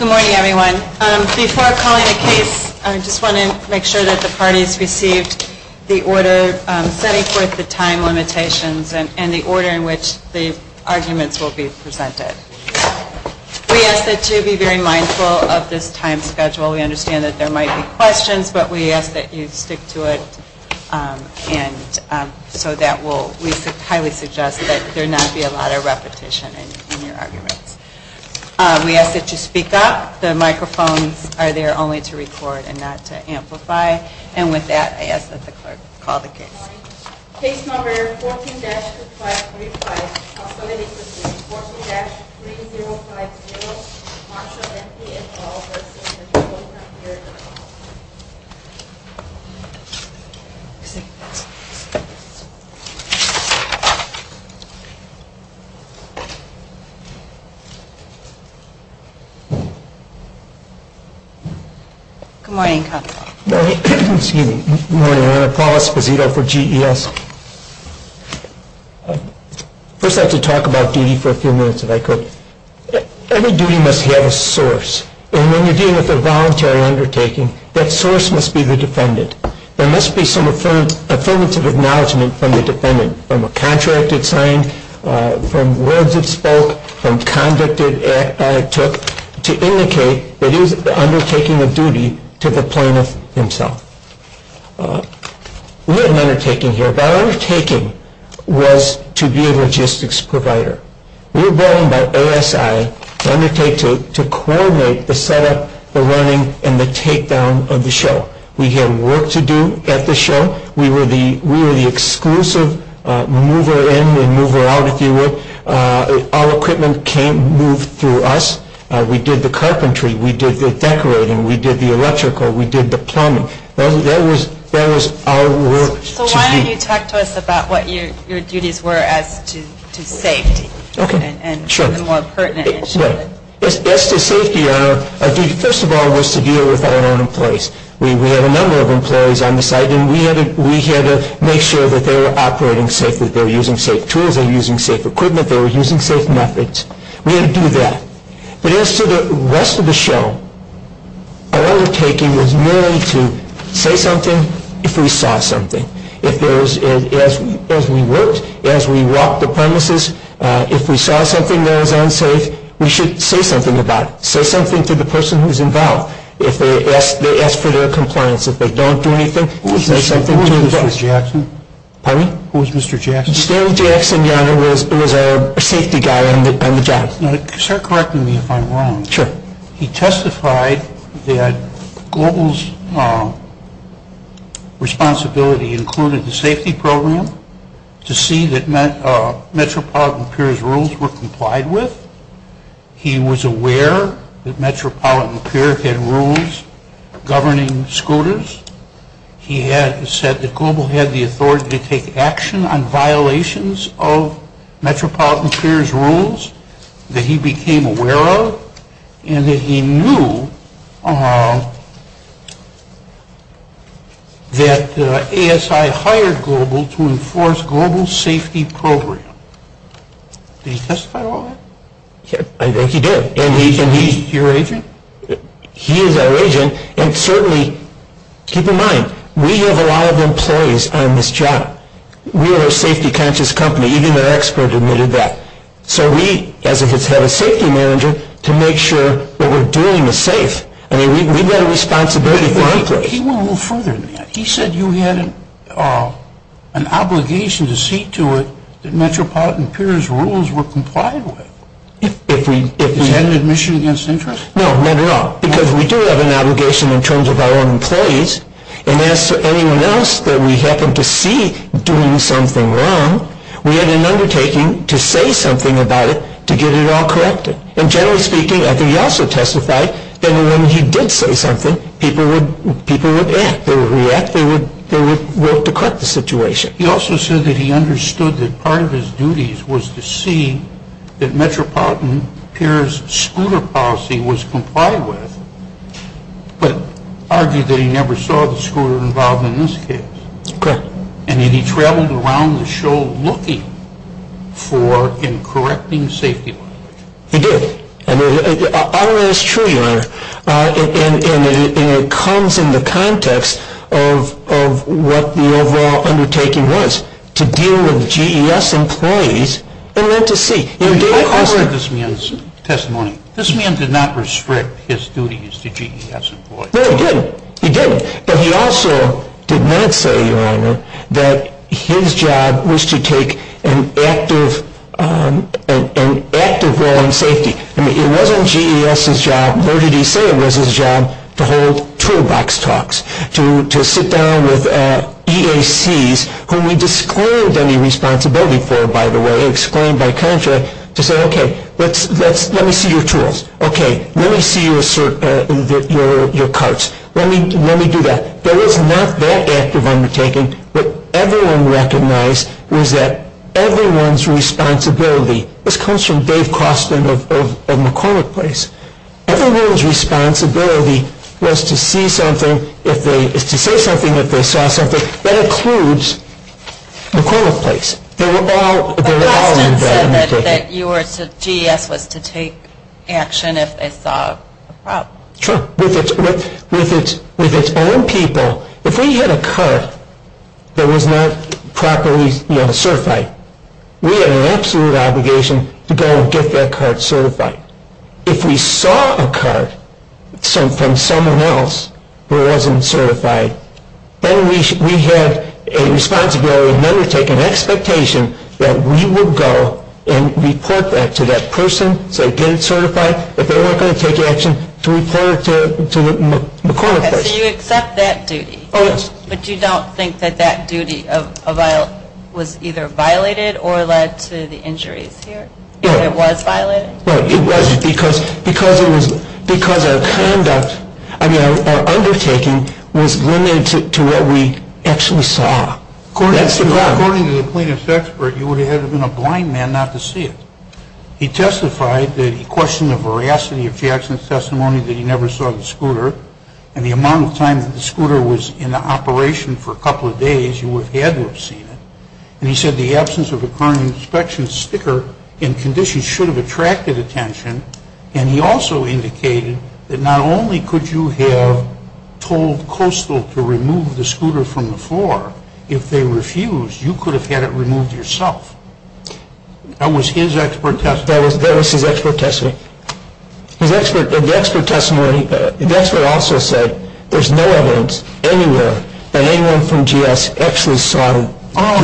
Good morning, everyone. Before I call you to speak, I just want to make sure that the parties receive the order setting forth the time limitations and the order in which the arguments will be presented. We ask that you be very mindful of this time schedule. We understand that there might be questions, but we ask that you stick to it so that we can highly suggest that there not be a lot of repetition in your arguments. We ask that you speak up. The microphones are there only to record and not to amplify. And with that, I ask that the clerk call the case. Case number 14-6535. Good morning. I want to call Esquizito for GES. First, I have to talk about duty for a few minutes if I could. Every duty must have a source, and when you're dealing with a voluntary undertaking, that source must be the defendant. There must be some affirmative acknowledgement from the defendant, from a contract that's signed, from words that's spoke, from conduct that it took, to indicate that it is the undertaking of duty to the plaintiff himself. We had an undertaking here. That undertaking was to be a logistics provider. We were brought in by ASI to coordinate the setup, the running, and the takedown of the show. We had work to do at the show. We were the exclusive mover in and mover out, if you will. All equipment came and moved through us. We did the carpentry. We did the decorating. We did the electrical. We did the plumbing. That was our work to do. Why don't you talk to us about what your duties were as to safety and more pertinent issues. As best as safety, first of all, was to deal with our own employees. We had a number of employees on the site, and we had to make sure that they were operating safe, that they were using safe tools, they were using safe equipment, they were using safe methods. We had to do that. As to the rest of the show, our undertaking was merely to say something if we saw something. As we worked, as we walked the premises, if we saw something that was unsafe, we should say something about it. Say something to the person who's involved. If they ask for their compliance, if they don't do anything, say something about it. Who was Mr. Jackson? Pardon me? Who was Mr. Jackson? Stan Jackson was our safety guy on the job. Start correcting me if I'm wrong. Sure. He testified that Global's responsibility included the safety program to see that Metropolitan Appearance Rules were complied with. He was aware that Metropolitan Appearance had rules governing scooters. He said that Global had the authority to take action on violations of Metropolitan Appearance Rules that he became aware of, and that he knew that ASI hired Global to enforce Global's safety program. Did he testify to all that? I think he did. And he's your agent? He is our agent. And certainly, keep in mind, we have a lot of employees on this job. We are a safety conscious company, even our expert admitted that. So we, as if it's head of safety manager, to make sure that what we're doing is safe. I mean, we've got a responsibility. He went a little further than that. He said you had an obligation to see to it that Metropolitan Appearance Rules were complied with. He had an admission against interest. No, not at all. Because we do have an obligation in terms of our own employees, and as to anyone else that we happen to see doing something wrong, we have an undertaking to say something about it to get it all corrected. And generally speaking, I think he also testified that when he did say something, people would act. They would react. They would work to correct the situation. He also said that he understood that part of his duties was to see that Metropolitan Appearance scooter policy was complied with, but argued that he never saw the scooter involved in this case. Correct. And that he traveled around the show looking for and correcting safety lines. He did. I mean, it's true, Your Honor, and it comes in the context of what the overall undertaking was, to deal with GES employees and then to see. I've heard this man's testimony. This man did not restrict his duties to GES employees. No, he didn't. He didn't. But he also did not say, Your Honor, that his job was to take an active role in safety. I mean, it wasn't GES's job. What did he say was his job? To hold toolbox talks. To sit down with EACs, who he declared that he was responsible for, by the way, and explained by contract to say, okay, let me see your tools. Okay, let me see your carts. Let me do that. There was not that active undertaking. What everyone recognized was that everyone's responsibility, this comes from Dave Crossman of McCormick Place, everyone's responsibility was to see something, to say something that they saw something, that includes McCormick Place. They were all involved in this. He said that GES was to take action if they saw a problem. With its own people, if we had a cart that was not properly certified, we had an absolute obligation to go and get that cart certified. If we saw a cart from someone else who wasn't certified, then we had a responsibility to undertake an expectation that we would go and report that to that person, say get it certified, that they were going to take action to report it to McCormick Place. Okay, so you accept that duty. Oh, yes. But you don't think that that duty was either violated or led to the injuries here? No. It was violated? No, it wasn't because our undertaking was limited to what we actually saw. According to the plaintiff's expert, he would have been a blind man not to see it. He testified that he questioned the veracity of Jackson's testimony that he never saw the scooter and the amount of time that the scooter was in operation for a couple of days, he would have had to have seen it. He said the absence of a current inspection sticker in condition should have attracted attention, and he also indicated that not only could you have told Coastal to remove the scooter from the floor, if they refused, you could have had it removed yourself. That was his expert testimony? That was his expert testimony. The expert also said there's no evidence anywhere that anyone from GS actually saw the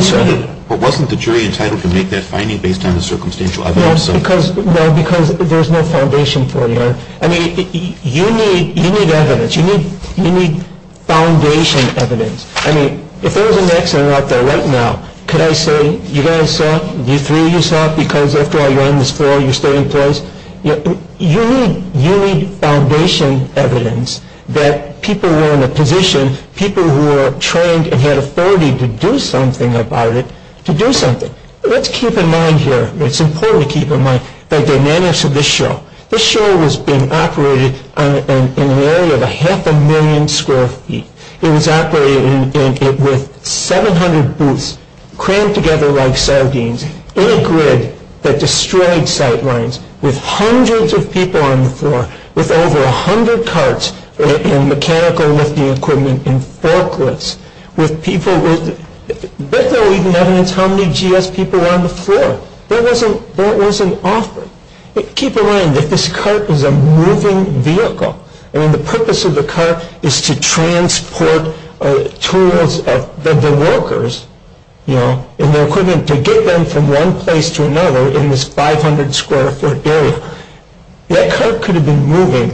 scooter. But wasn't the jury entitled to make that finding based on the circumstantial evidence? Yes, because there's no foundation for that. I mean, you need evidence. You need foundation evidence. I mean, if there was an expert out there right now, could I say, you guys saw V3, you saw V4, V1, V4, you're staying close? You need foundation evidence that people were in a position, people who were trained and had authority to do something about it, to do something. Let's keep in mind here, it's important to keep in mind the dynamics of this show. This show was being operated in an area of a half a million square feet. It was operated with 700 booths crammed together like sardines, in a grid that destroyed sight lines, with hundreds of people on the floor, with over 100 carts and mechanical lifting equipment and forklifts, with people with no evidence how many GS people were on the floor. That wasn't offered. Keep in mind that this cart is a moving vehicle, and the purpose of the cart is to transport tools of the workers, and the equipment to get them from one place to another in this 500 square foot area. That cart could have been moving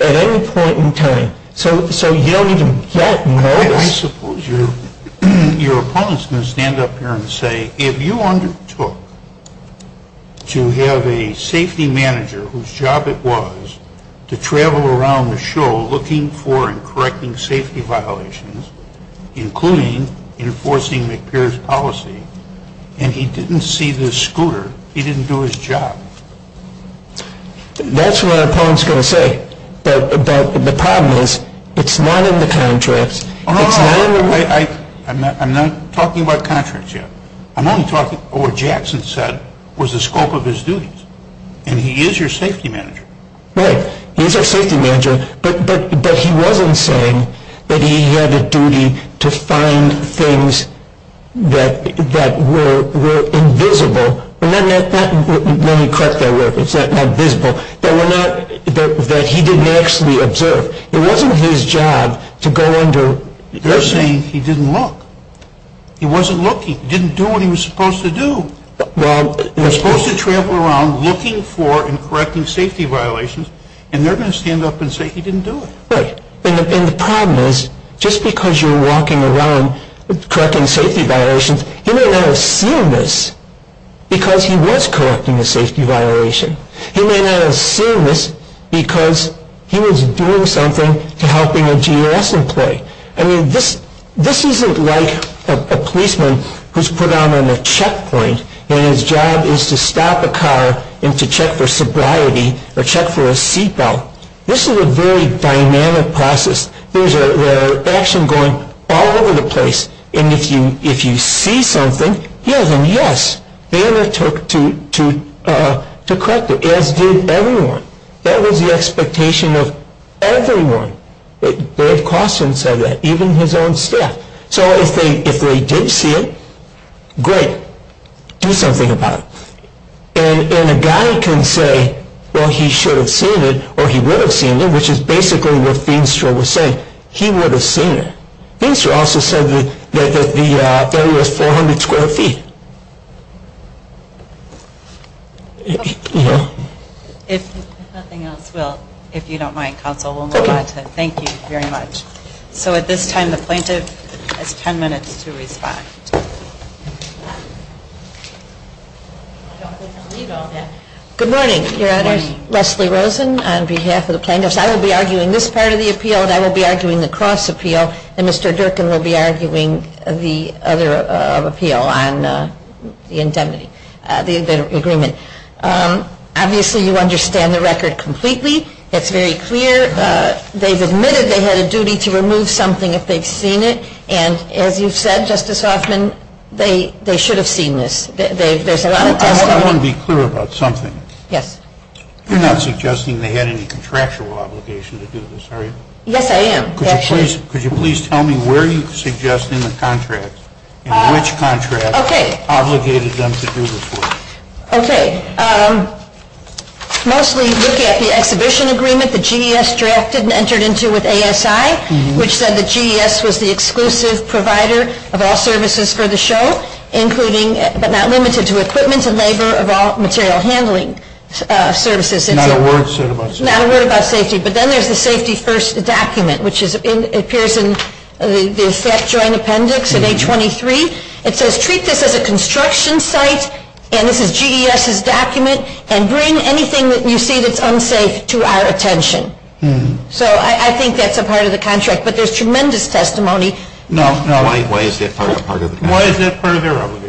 at any point in time, so you don't need to get nervous. I suppose your opponents are going to stand up here and say, if you undertook to have a safety manager, whose job it was to travel around the show looking for and correcting safety violations, including enforcing McPeer's policy, and he didn't see this scooter, he didn't do his job. That's what our opponents are going to say. But the problem is, it's not in the contracts. I'm not talking about contracts yet. I'm only talking about what Jackson said was the scope of his duties, and he is your safety manager. Right, he's our safety manager, but he wasn't saying that he had a duty to find things that were invisible, and let me correct that word, it's not visible, that he didn't actually observe. It wasn't his job to go under. They're saying he didn't look. He wasn't looking. He didn't do what he was supposed to do. Well, he was supposed to travel around looking for and correcting safety violations, and they're going to stand up and say he didn't do it. Right, and the problem is, just because you're walking around correcting safety violations, he may not have seen this because he was correcting a safety violation. He may not have seen this because he was doing something to help a GS employee. I mean, this isn't like a policeman who's put on a checkpoint, and his job is to stop a car and to check for sobriety or check for a seatbelt. This is a very dynamic process. There's action going all over the place, and if you see something, yes, and yes, they undertook to correct it, as did everyone. That was the expectation of everyone. Dave Costner said that, even his own staff. So if they did see it, great, do something about it. And a guy can say, well, he should have seen it or he would have seen it, which is basically what Feenstra was saying. He would have seen it. Feenstra also said that the area is 400 square feet. If nothing else, we'll, if you don't mind, counsel, we'll move on. Thank you very much. So at this time, the plaintiff has 10 minutes to respond. Good morning. My name is Leslie Rosen on behalf of the plaintiffs. I will be arguing this part of the appeal, and I will be arguing the cross appeal, and Mr. Durkin will be arguing the other appeal on the indemnity, the agreement. Obviously, you understand the record completely. It's very clear. They've admitted they had a duty to remove something if they've seen it, and as you said, Justice Hoffman, they should have seen this. I want to be clear about something. Yes. You're not suggesting they had any contractual obligation to do this, are you? Yes, I am. Could you please tell me where you suggest in the contract and which contract obligated them to do this work? Okay. Mostly looking at the exhibition agreement that GDS drafted and entered into with ASI, which said that GDS was the exclusive provider of all services for the show, but not limited to equipment and labor of all material handling services. Not a word about safety. Not a word about safety. But then there's the safety first document, which appears in the effect joint appendix in A23. It says treat this as a construction site, and this is GDS's document, and bring anything that you see that's unsafe to our attention. So I think that's a part of the contract, but there's tremendous testimony. Why is that part of the contract? And why is that part of their obligation?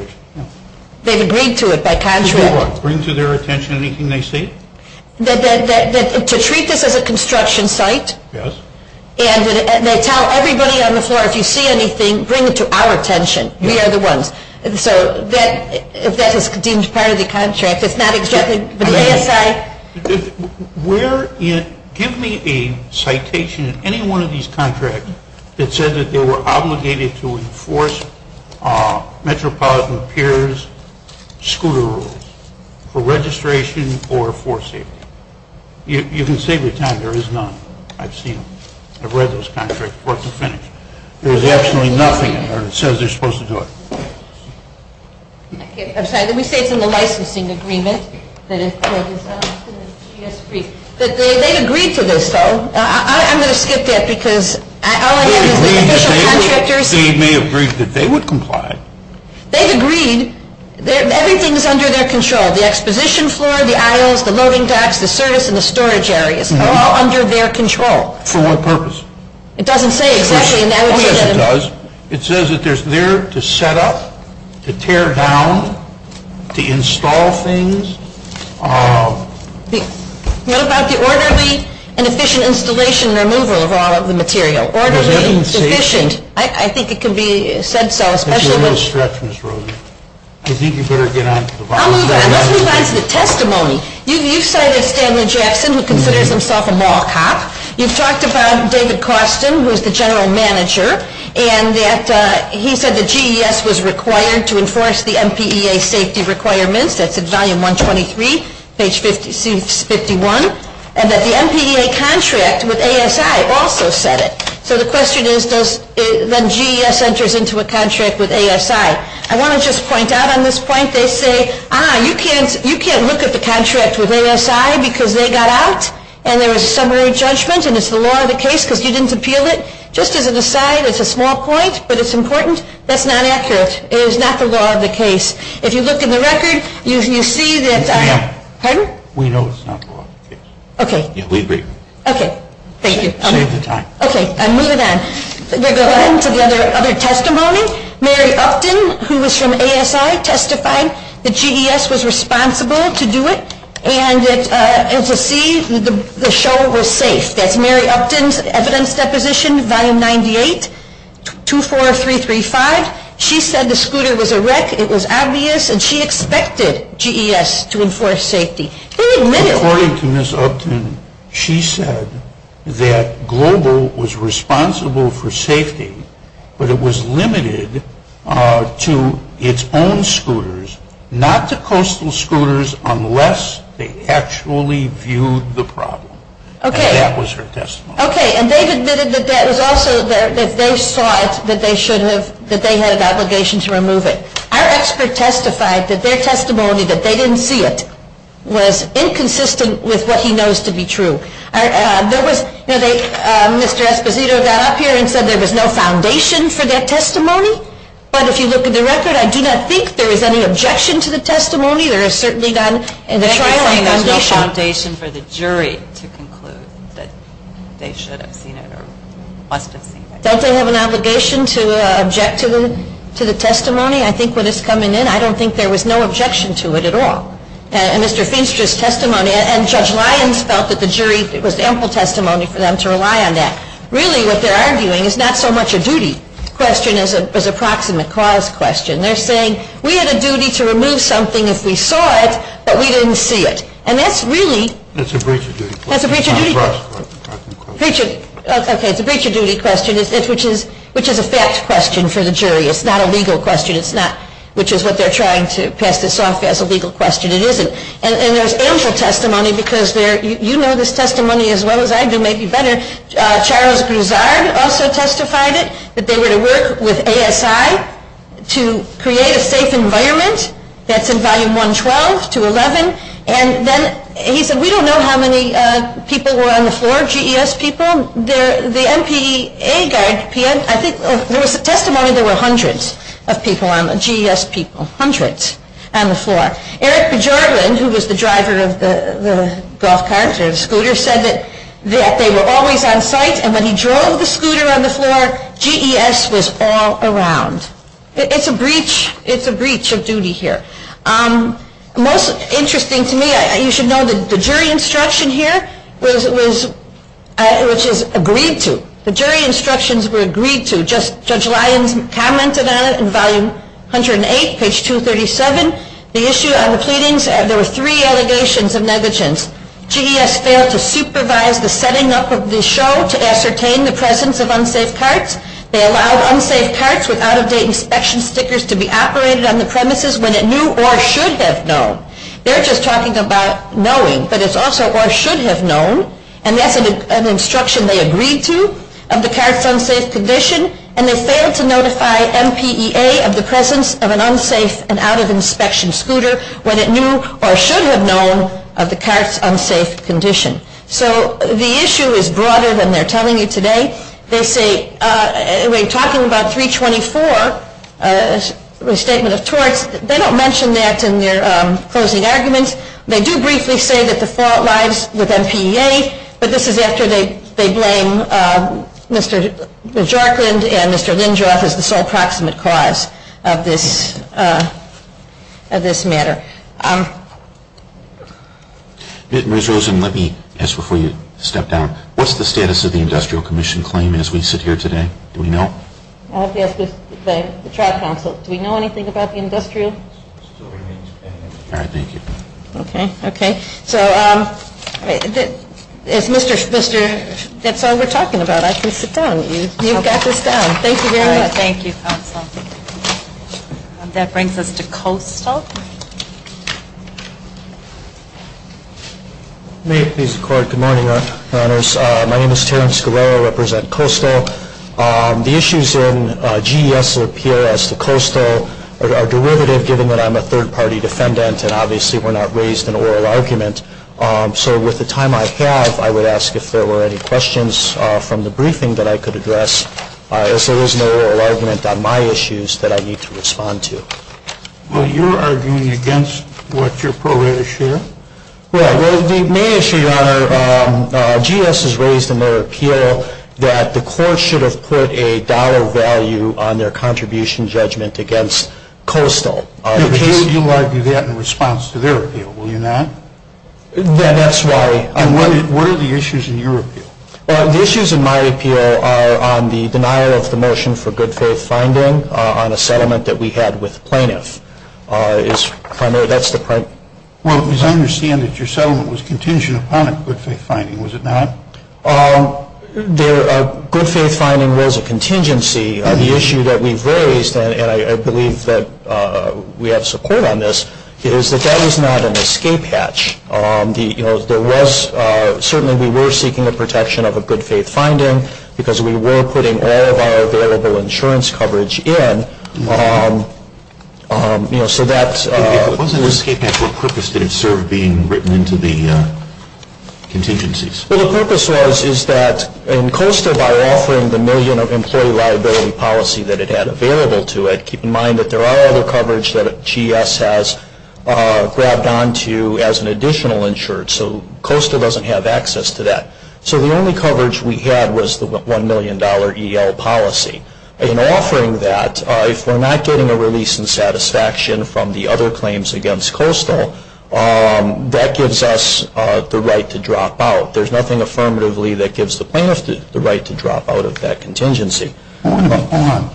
They agreed to it, that contract. What? Bring to their attention anything they see? To treat this as a construction site. Yes. And they tell everybody on the floor, if you see anything, bring it to our attention. We are the ones. So that is deemed part of the contract. It's not exactly the GDS site. Give me a citation in any one of these contracts that says that they were obligated to enforce metropolitan peers' scooter rules for registration or for safety. You can save your time. There is none. I've seen them. I've read those contracts. There's absolutely nothing that says they're supposed to do it. I'm sorry. Let me say it's in the licensing agreement. They agreed to this, though. I'm going to skip that because all I have is the official contractors. They may have agreed that they would comply. They agreed. Everything is under their control. The exposition floor, the aisles, the loading tacks, the service and the storage areas are all under their control. For what purpose? It doesn't say exactly. It does. It does. It says that they're there to set up, to tear down, to install things. What about the orderly and efficient installation and removal of all of the material? Orderly and efficient. I think it could be said so. That's a little stretch, Ms. Rosen. I think you'd better get on to the bottom of that. Let me get on to the testimony. You cited Stanley Jackson, who considers himself a mall cop. You've talked about David Costin, who's the general manager, and that he said that GES was required to enforce the MPEA safety requirements, that's in volume 123, page 51, and that the MPEA contract with ASI also said it. So the question is, then GES enters into a contract with ASI. I want to just point out on this point, they say, ah, you can't look at the contract with ASI because they got out and there was summary judgment and it's the law of the case because you didn't appeal it. Just as an aside, it's a small point, but it's important. That's not accurate. It is not the law of the case. If you look in the record, you see that – Pardon? We know it's not the law of the case. Okay. Okay. Thank you. Okay. I'll move it on. We'll go on to the other testimony. Mary Upton, who was from ASI, testified that GES was responsible to do it, and as you see, the show was safe. That's Mary Upton's evidence deposition, volume 98, 24335. She said the scooter was a wreck. It was obvious, and she expected GES to enforce safety. According to Ms. Upton, she said that Global was responsible for safety, but it was limited to its own scooters, not to coastal scooters, unless they actually viewed the problem. Okay. And that was her testimony. Okay. And they admitted that they saw that they had an obligation to remove it. Our expert testified that their testimony, that they didn't see it, was inconsistent with what he knows to be true. All right. Mr. Esposito got up here and said there was no foundation for that testimony, but if you look at the record, I do not think there is any objection to the testimony. There is certainly none in the trial. There is no foundation for the jury to conclude that they should have seen it or must have seen it. Does they have an obligation to object to the testimony? I think when it's coming in, I don't think there was no objection to it at all. And Mr. Feenstra's testimony, and Judge Lyons felt that the jury, it was ample testimony for them to rely on that. Really, what they're arguing is not so much a duty question as a proximate cause question. They're saying, we had a duty to remove something if we saw it, but we didn't see it. And that's really... It's a breach of duty. It's a breach of duty. It's a breach of duty. Okay. It's a breach of duty question, which is a fact question for the jury. It's not a legal question. Which is what they're trying to pass this off as a legal question. It isn't. And there's ample testimony because you know this testimony as well as I do, maybe better. Charles Gruzard also testified that they were to work with ASI to create a safe environment that's in Volume 112 to 11. And then he said, we don't know how many people were on the floor, GES people. Well, the MPA guy, I think there was testimony there were hundreds of people, GES people, hundreds, on the floor. Eric Bergerland, who was the driver of the golf carts and scooters, said that they were always on site. And when he drove the scooter on the floor, GES was all around. It's a breach. It's a breach of duty here. Most interesting to me, you should know the jury instruction here, which is agreed to. The jury instructions were agreed to. Judge Lyden commented on it in Volume 108, page 237. The issue on the pleadings, there were three allegations of negligence. GES failed to supervise the setting up of the show to ascertain the presence of unsafe carts. They allowed unsafe carts with out-of-date inspection stickers to be operated on the premises when it knew or should have known. They're just talking about knowing, but it's also or should have known. And that's an instruction they agreed to of the cart's unsafe condition. And they failed to notify MPEA of the presence of an unsafe and out-of-inspection scooter when it knew or should have known of the cart's unsafe condition. So the issue is broader than they're telling you today. They say they're talking about 324, a statement of torts. They don't mention that in their closing arguments. They do briefly say that the fault lies with MPEA, but this is after they blame Mr. Jarkin and Mr. Lindjoff as the sole proximate cause of this matter. Ms. Rosen, let me ask before you step down. What's the status of the industrial commission claim as we sit here today? Do we know? I'd have to ask the Tribe Council. Do we know anything about the industrial? All right. Thank you. Okay. Okay. So, if Mr. – that's all we're talking about. I think you've got this down. Thank you very much. Thank you, Counsel. That brings us to COSTO. May I please record? Good morning, Your Honors. My name is Terence Guerrero. I represent COSTO. The issues in GES or PRS to COSTO are derivative, given that I'm a third-party defendant, and obviously were not raised in an oral argument. So with the time I have, I would ask if there were any questions from the briefing that I could address. If there is no oral argument on my issues that I need to respond to. Well, you're arguing against what your program is sharing? Well, the main issues are GES has raised in their appeal that the court should have put a dollar value on their contribution judgment against COSTO. You'll argue that in response to their appeal, will you not? Yeah, that's why. What are the issues in your appeal? The issues in my appeal are on the denial of the motion for good-faith finding on a settlement that we had with the plaintiff. If I may, that's the point. Well, as I understand it, your settlement was contingent upon a good-faith finding, was it not? There are good-faith finding rules of contingency. The issue that we've raised, and I believe that we have support on this, is that that is not an escape hatch. Certainly, we were seeking a protection of a good-faith finding because we were putting all of our available insurance coverage in. What's an escape hatch? What purpose did it serve being written into the contingencies? Well, the purpose was that in COSTO, by offering the million of employee liability policy that it had available to it, keep in mind that there are other coverage that GS has grabbed onto as an additional insurance, so COSTO doesn't have access to that. So the only coverage we had was the $1 million EL policy. In offering that, if we're not getting a release and satisfaction from the other claims against COSTO, that gives us the right to drop out. There's nothing affirmatively that gives the plaintiff the right to drop out of that contingency. Hold on.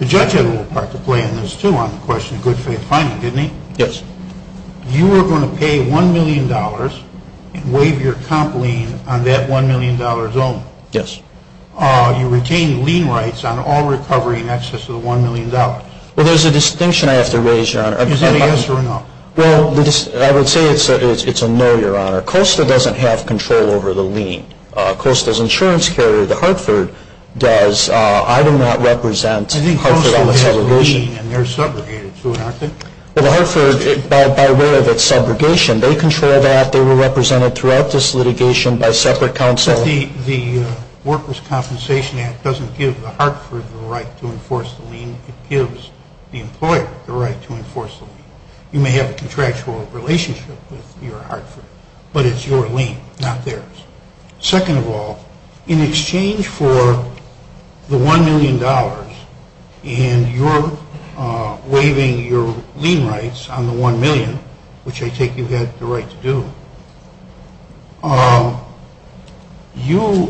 The judge had a little part to play in this, too, on the question of good-faith finding, didn't he? Yes. You were going to pay $1 million and waive your comp lien on that $1 million loan. Yes. You're retaining lien rights on all recovery in excess of the $1 million. Well, there's a distinction I have to raise, Your Honor. Is that a yes or a no? Well, I would say it's a no, Your Honor. COSTO doesn't have control over the lien. COSTO's insurance carrier, the Hartford, does. I do not represent Hartford on the subrogation. I think COSTO has a lien, and they're subrogated to it, aren't they? The Hartford, by way of its subrogation, they control that. They were represented throughout this litigation by separate counsel. But the Workers' Compensation Act doesn't give the Hartford the right to enforce the lien. It gives the employer the right to enforce the lien. You may have a contractual relationship with your Hartford, but it's your lien, not theirs. Second of all, in exchange for the $1 million and your waiving your lien rights on the $1 million, which I take you have the right to do, you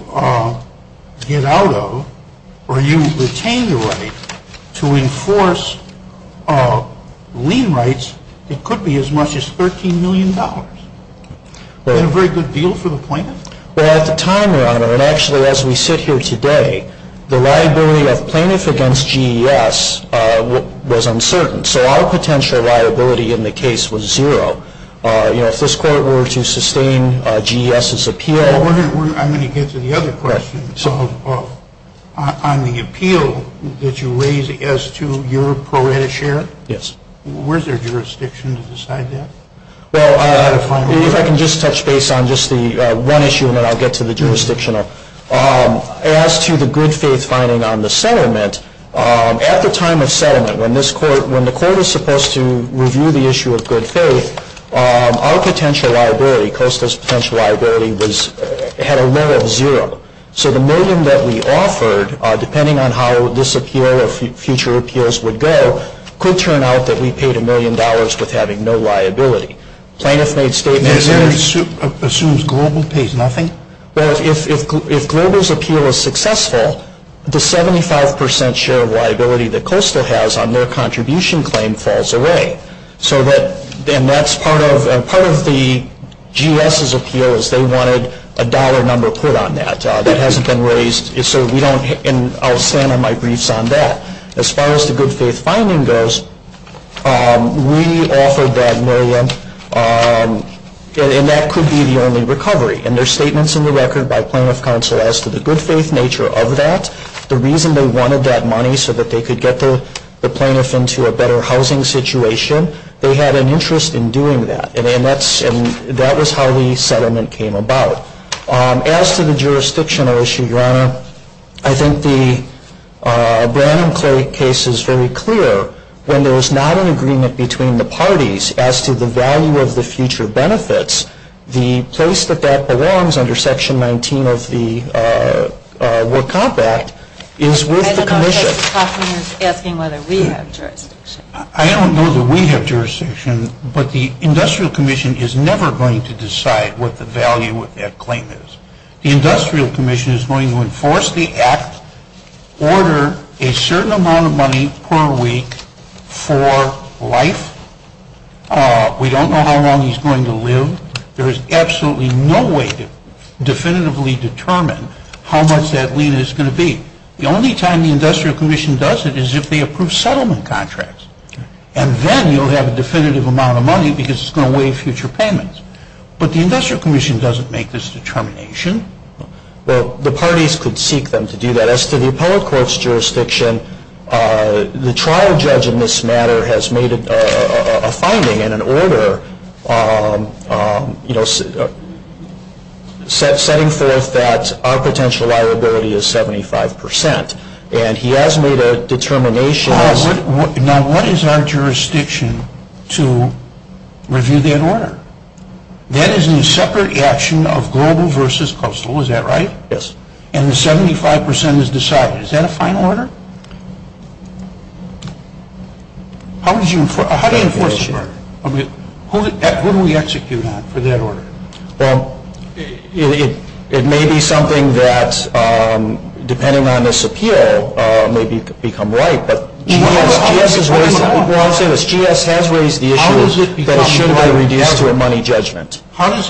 get out of, or you retain your right to enforce lien rights that could be as much as $13 million. Isn't that a very good deal for the plaintiff? Well, at the time, Your Honor, and actually as we sit here today, the liability of plaintiff against GES was uncertain. So our potential liability in the case was zero. You know, if this Court were to sustain GES's appeal. I'm going to get to the other question. So on the appeal that you raise as to your pro rata share? Yes. Was there jurisdiction to decide that? Well, if I can just touch base on just the one issue, and then I'll get to the jurisdictional. As to the good faith finding on the settlement, at the time of settlement, when the Court is supposed to review the issue of good faith, our potential liability, COSTA's potential liability, had a low of zero. So the million that we offered, depending on how this appeal or future appeals would go, could turn out that we paid $1 million with having no liability. Plaintiff made statements. Assumes Global pays nothing? Well, if Global's appeal is successful, the 75% share of liability that COSTA has on their contribution claim falls away. And part of the GES's appeal is they wanted a dollar number put on that. That hasn't been raised. And I'll stand on my briefs on that. As far as the good faith finding goes, we offered that million, and that could be the only recovery. And there's statements in the record by plaintiff counsel as to the good faith nature of that, the reason they wanted that money so that they could get the plaintiff into a better housing situation. They had an interest in doing that. And that was how the settlement came about. As to the jurisdictional issue, Your Honor, I think the Brandon Clay case is very clear. When there was not an agreement between the parties as to the value of the future benefits, the place that that belongs under Section 19 of the Wood Compact is with the commission. I don't know if the commission is asking whether we have jurisdiction. I don't know that we have jurisdiction, but the industrial commission is never going to decide what the value of that claim is. The industrial commission is going to enforce the act, order a certain amount of money per week for life. We don't know how long he's going to live. There is absolutely no way to definitively determine how much that lien is going to be. The only time the industrial commission does it is if they approve settlement contracts. And then you'll have a definitive amount of money because it's going to waive future payments. But the industrial commission doesn't make this determination. The parties could seek them to do that. As to the appellate court's jurisdiction, the trial judge in this matter has made a finding in an order setting forth that our potential liability is 75%. And he has made a determination. Now, what is our jurisdiction to review that order? That is a separate action of global versus coastal, is that right? Yes. And the 75% is decided. Is that a final order? How do you enforce it? Who do we execute on for that order? Well, it may be something that, depending on this appeal, may become right, but... How does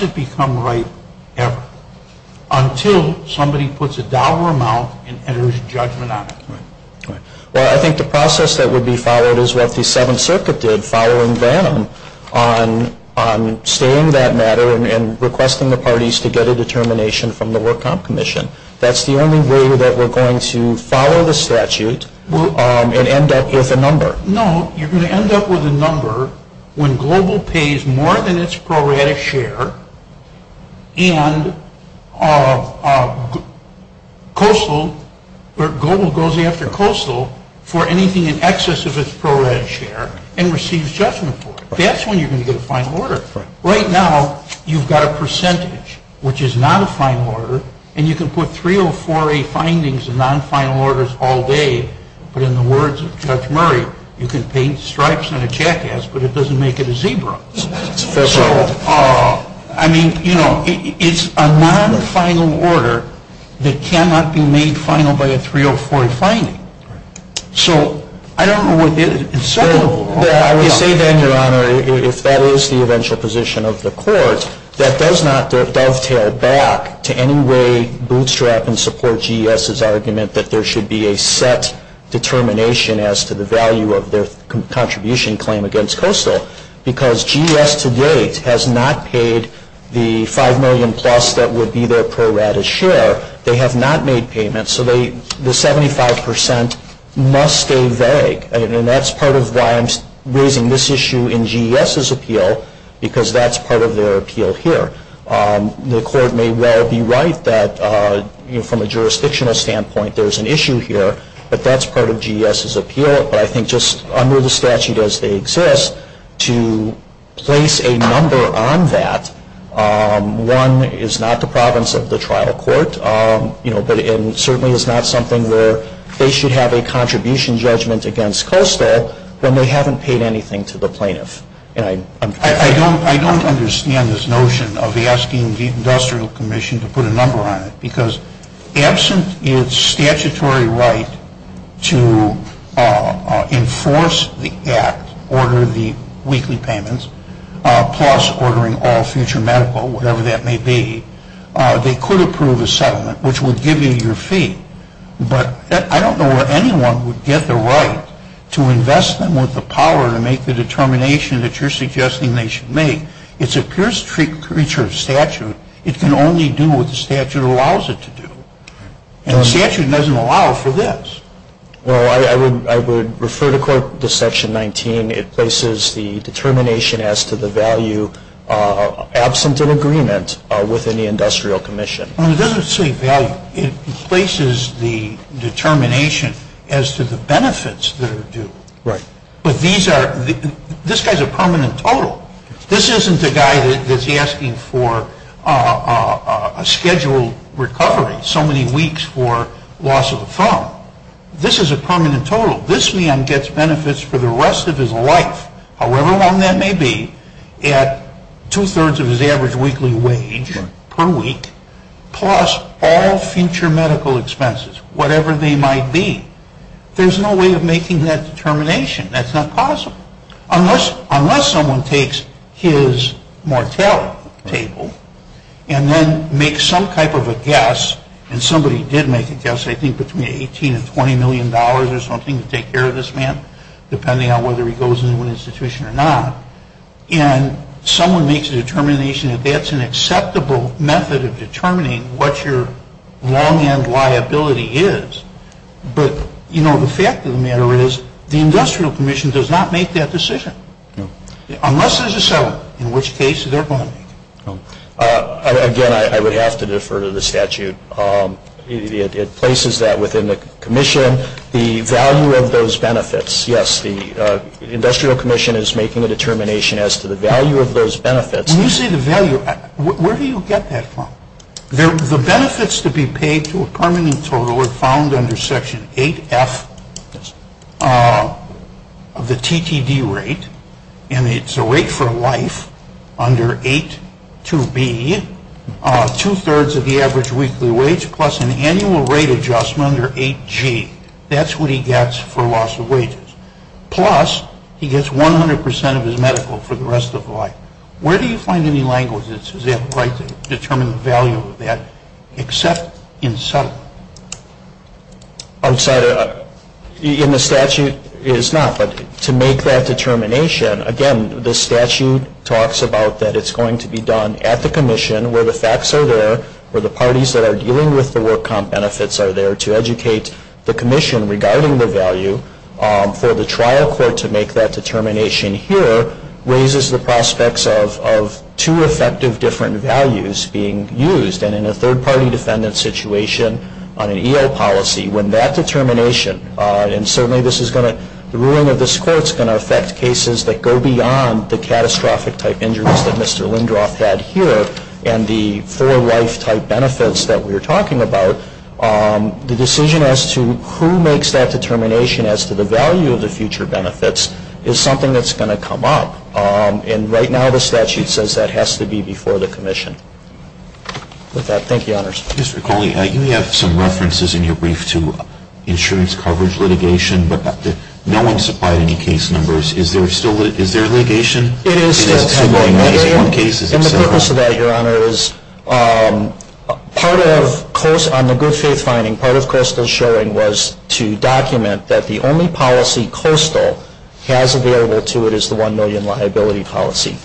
it become right? Until somebody puts a dollar amount and there's a judgment on it. Well, I think the process that would be followed is what the Seventh Circuit did following Van on stating that matter and requesting the parties to get a determination from the World Comp Commission. That's the only way that we're going to follow the statute and end up with a number. No, you're going to end up with a number when global pays more than its prorated share, and global goes after coastal for anything in excess of its prorated share and receives judgment for it. That's when you're going to get a final order. Right now, you've got a percentage, which is not a final order, and you can put 304A findings in non-final orders all day, but in the words of Judge Murray, you can paint stripes on a jackass, but it doesn't make it a zebra. That's right. I mean, you know, it's a non-final order that cannot be made final by a 304A finding. So, I don't know what this is. I would say then, Your Honor, if that is the eventual position of the court, that does not dovetail back to any way bootstrap and support GES's argument that there should be a set determination as to the value of their contribution claim against coastal, because GES to date has not paid the $5 million plus that would be their prorated share. They have not made payments, so the 75% must stay vague, and that's part of why I'm raising this issue in GES's appeal, because that's part of their appeal here. The court may well be right that, from a jurisdictional standpoint, there's an issue here, but that's part of GES's appeal, but I think just under the statute as they exist, to place a number on that, one, is not the province of the trial court, but it certainly is not something where they should have a contribution judgment against coastal when they haven't paid anything to the plaintiff. I don't understand this notion of asking the Industrial Commission to put a number on it, because absent its statutory right to enforce the Act, order the weekly payments, plus ordering all future medical, whatever that may be, they could approve a settlement, which would give you your fee, but I don't know where anyone would get the right to invest that amount of power to make the determination that you're suggesting they should make. It's a pure creature of statute. It can only do what the statute allows it to do, and the statute doesn't allow for this. Well, I would refer to Section 19. It places the determination as to the value absent an agreement within the Industrial Commission. It doesn't say value. It places the determination as to the benefits that are due. Right. But this guy's a permanent total. This isn't the guy that's asking for a scheduled recovery, so many weeks for loss of the firm. This is a permanent total. This man gets benefits for the rest of his life, however long that may be, at two-thirds of his average weekly wage per week, plus all future medical expenses, whatever they might be. There's no way of making that determination. That's not possible. Unless someone takes his mortality table and then makes some type of a guess, and somebody did make a guess, I think between $18 and $20 million or something to take care of this man, depending on whether he goes into an institution or not, and someone makes a determination that that's an acceptable method of determining what your long-end liability is. But the fact of the matter is the Industrial Commission does not make that decision, unless there's a settlement, in which case they're going to. Again, I would have to defer to the statute. It places that within the commission, the value of those benefits. Yes, the Industrial Commission is making a determination as to the value of those benefits. When you say the value, where do you get that from? The benefits to be paid to a permanent total are found under Section 8F of the TTD rate, and it's a rate for life under 8 to B, two-thirds of the average weekly wage, plus an annual rate adjustment under 8G. That's what he gets for loss of wages. Plus, he gets 100% of his medical for the rest of life. Where do you find any language that says it's right to determine the value of that except in settlement? In the statute, it is not. But to make that determination, again, the statute talks about that it's going to be done at the commission, where the facts are there, where the parties that are dealing with the work comp benefits are there to educate the commission regarding the value. For the trial court to make that determination here raises the prospects of two effective different values being used, and in a third-party defendant situation on an EO policy, when that determination, and certainly the ruling of this court is going to affect cases that go beyond the catastrophic-type injuries that Mr. Lindroff had here and the full-life-type benefits that we were talking about, the decision as to who makes that determination as to the value of the future benefits is something that's going to come up. And right now, the statute says that has to be before the commission. With that, thank you, Your Honors. Mr. Cawley, you have some references in your brief to insurance coverage litigation, but no one supplied any case numbers. Is there still litigation? It is. And the purpose of that, Your Honors, on the good faith finding, part of Coastal's showing was to document that the only policy Coastal has available to it is the $1 million liability policy.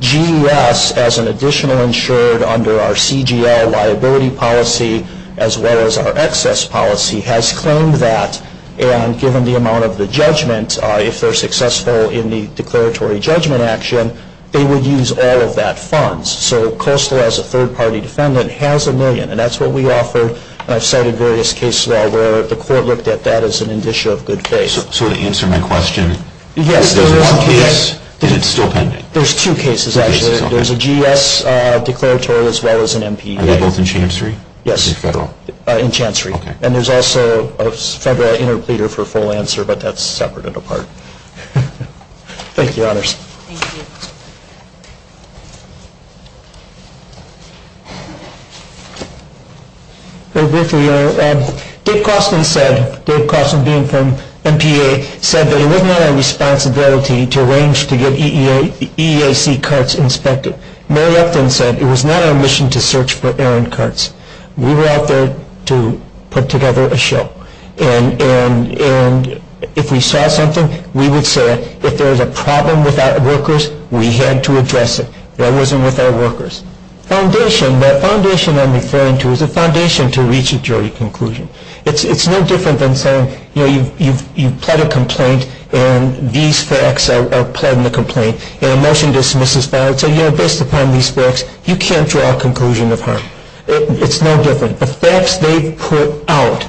GUS, as an additional insured under our CGL liability policy, as well as our excess policy, has claimed that, and given the amount of the judgment, if they're successful in the declaratory judgment action, they would use all of that funds. So Coastal, as a third-party defendant, has $1 million, and that's what we offer, and I've cited various cases where the court looked at that as an indicia of good faith. So to answer my question, there's one case, and it's still pending? There's two cases, actually. There's a GS declaratory as well as an MPA. Are they both in Chancery? Yes, in Chancery. And there's also a Federal Interpreter for full answer, but that's separate and apart. Thank you, Your Honors. Thank you. Dave Cossman said, Dave Cossman being from MPA, said that it was not our responsibility to arrange to get EAC cuts inspected. Mary Epton said it was not our mission to search for errant cuts. We were out there to put together a show, and if we saw something, we would say, if there was a problem with our workers, we had to address it. That wasn't with our workers. Foundation, the foundation I'm referring to is the foundation to reach a jury conclusion. It's no different than saying, you know, you've pled a complaint, and these facts are pled in the complaint, and a motion dismisses that. So, you know, based upon these facts, you can't draw a conclusion upon it. It's no different. The facts they put out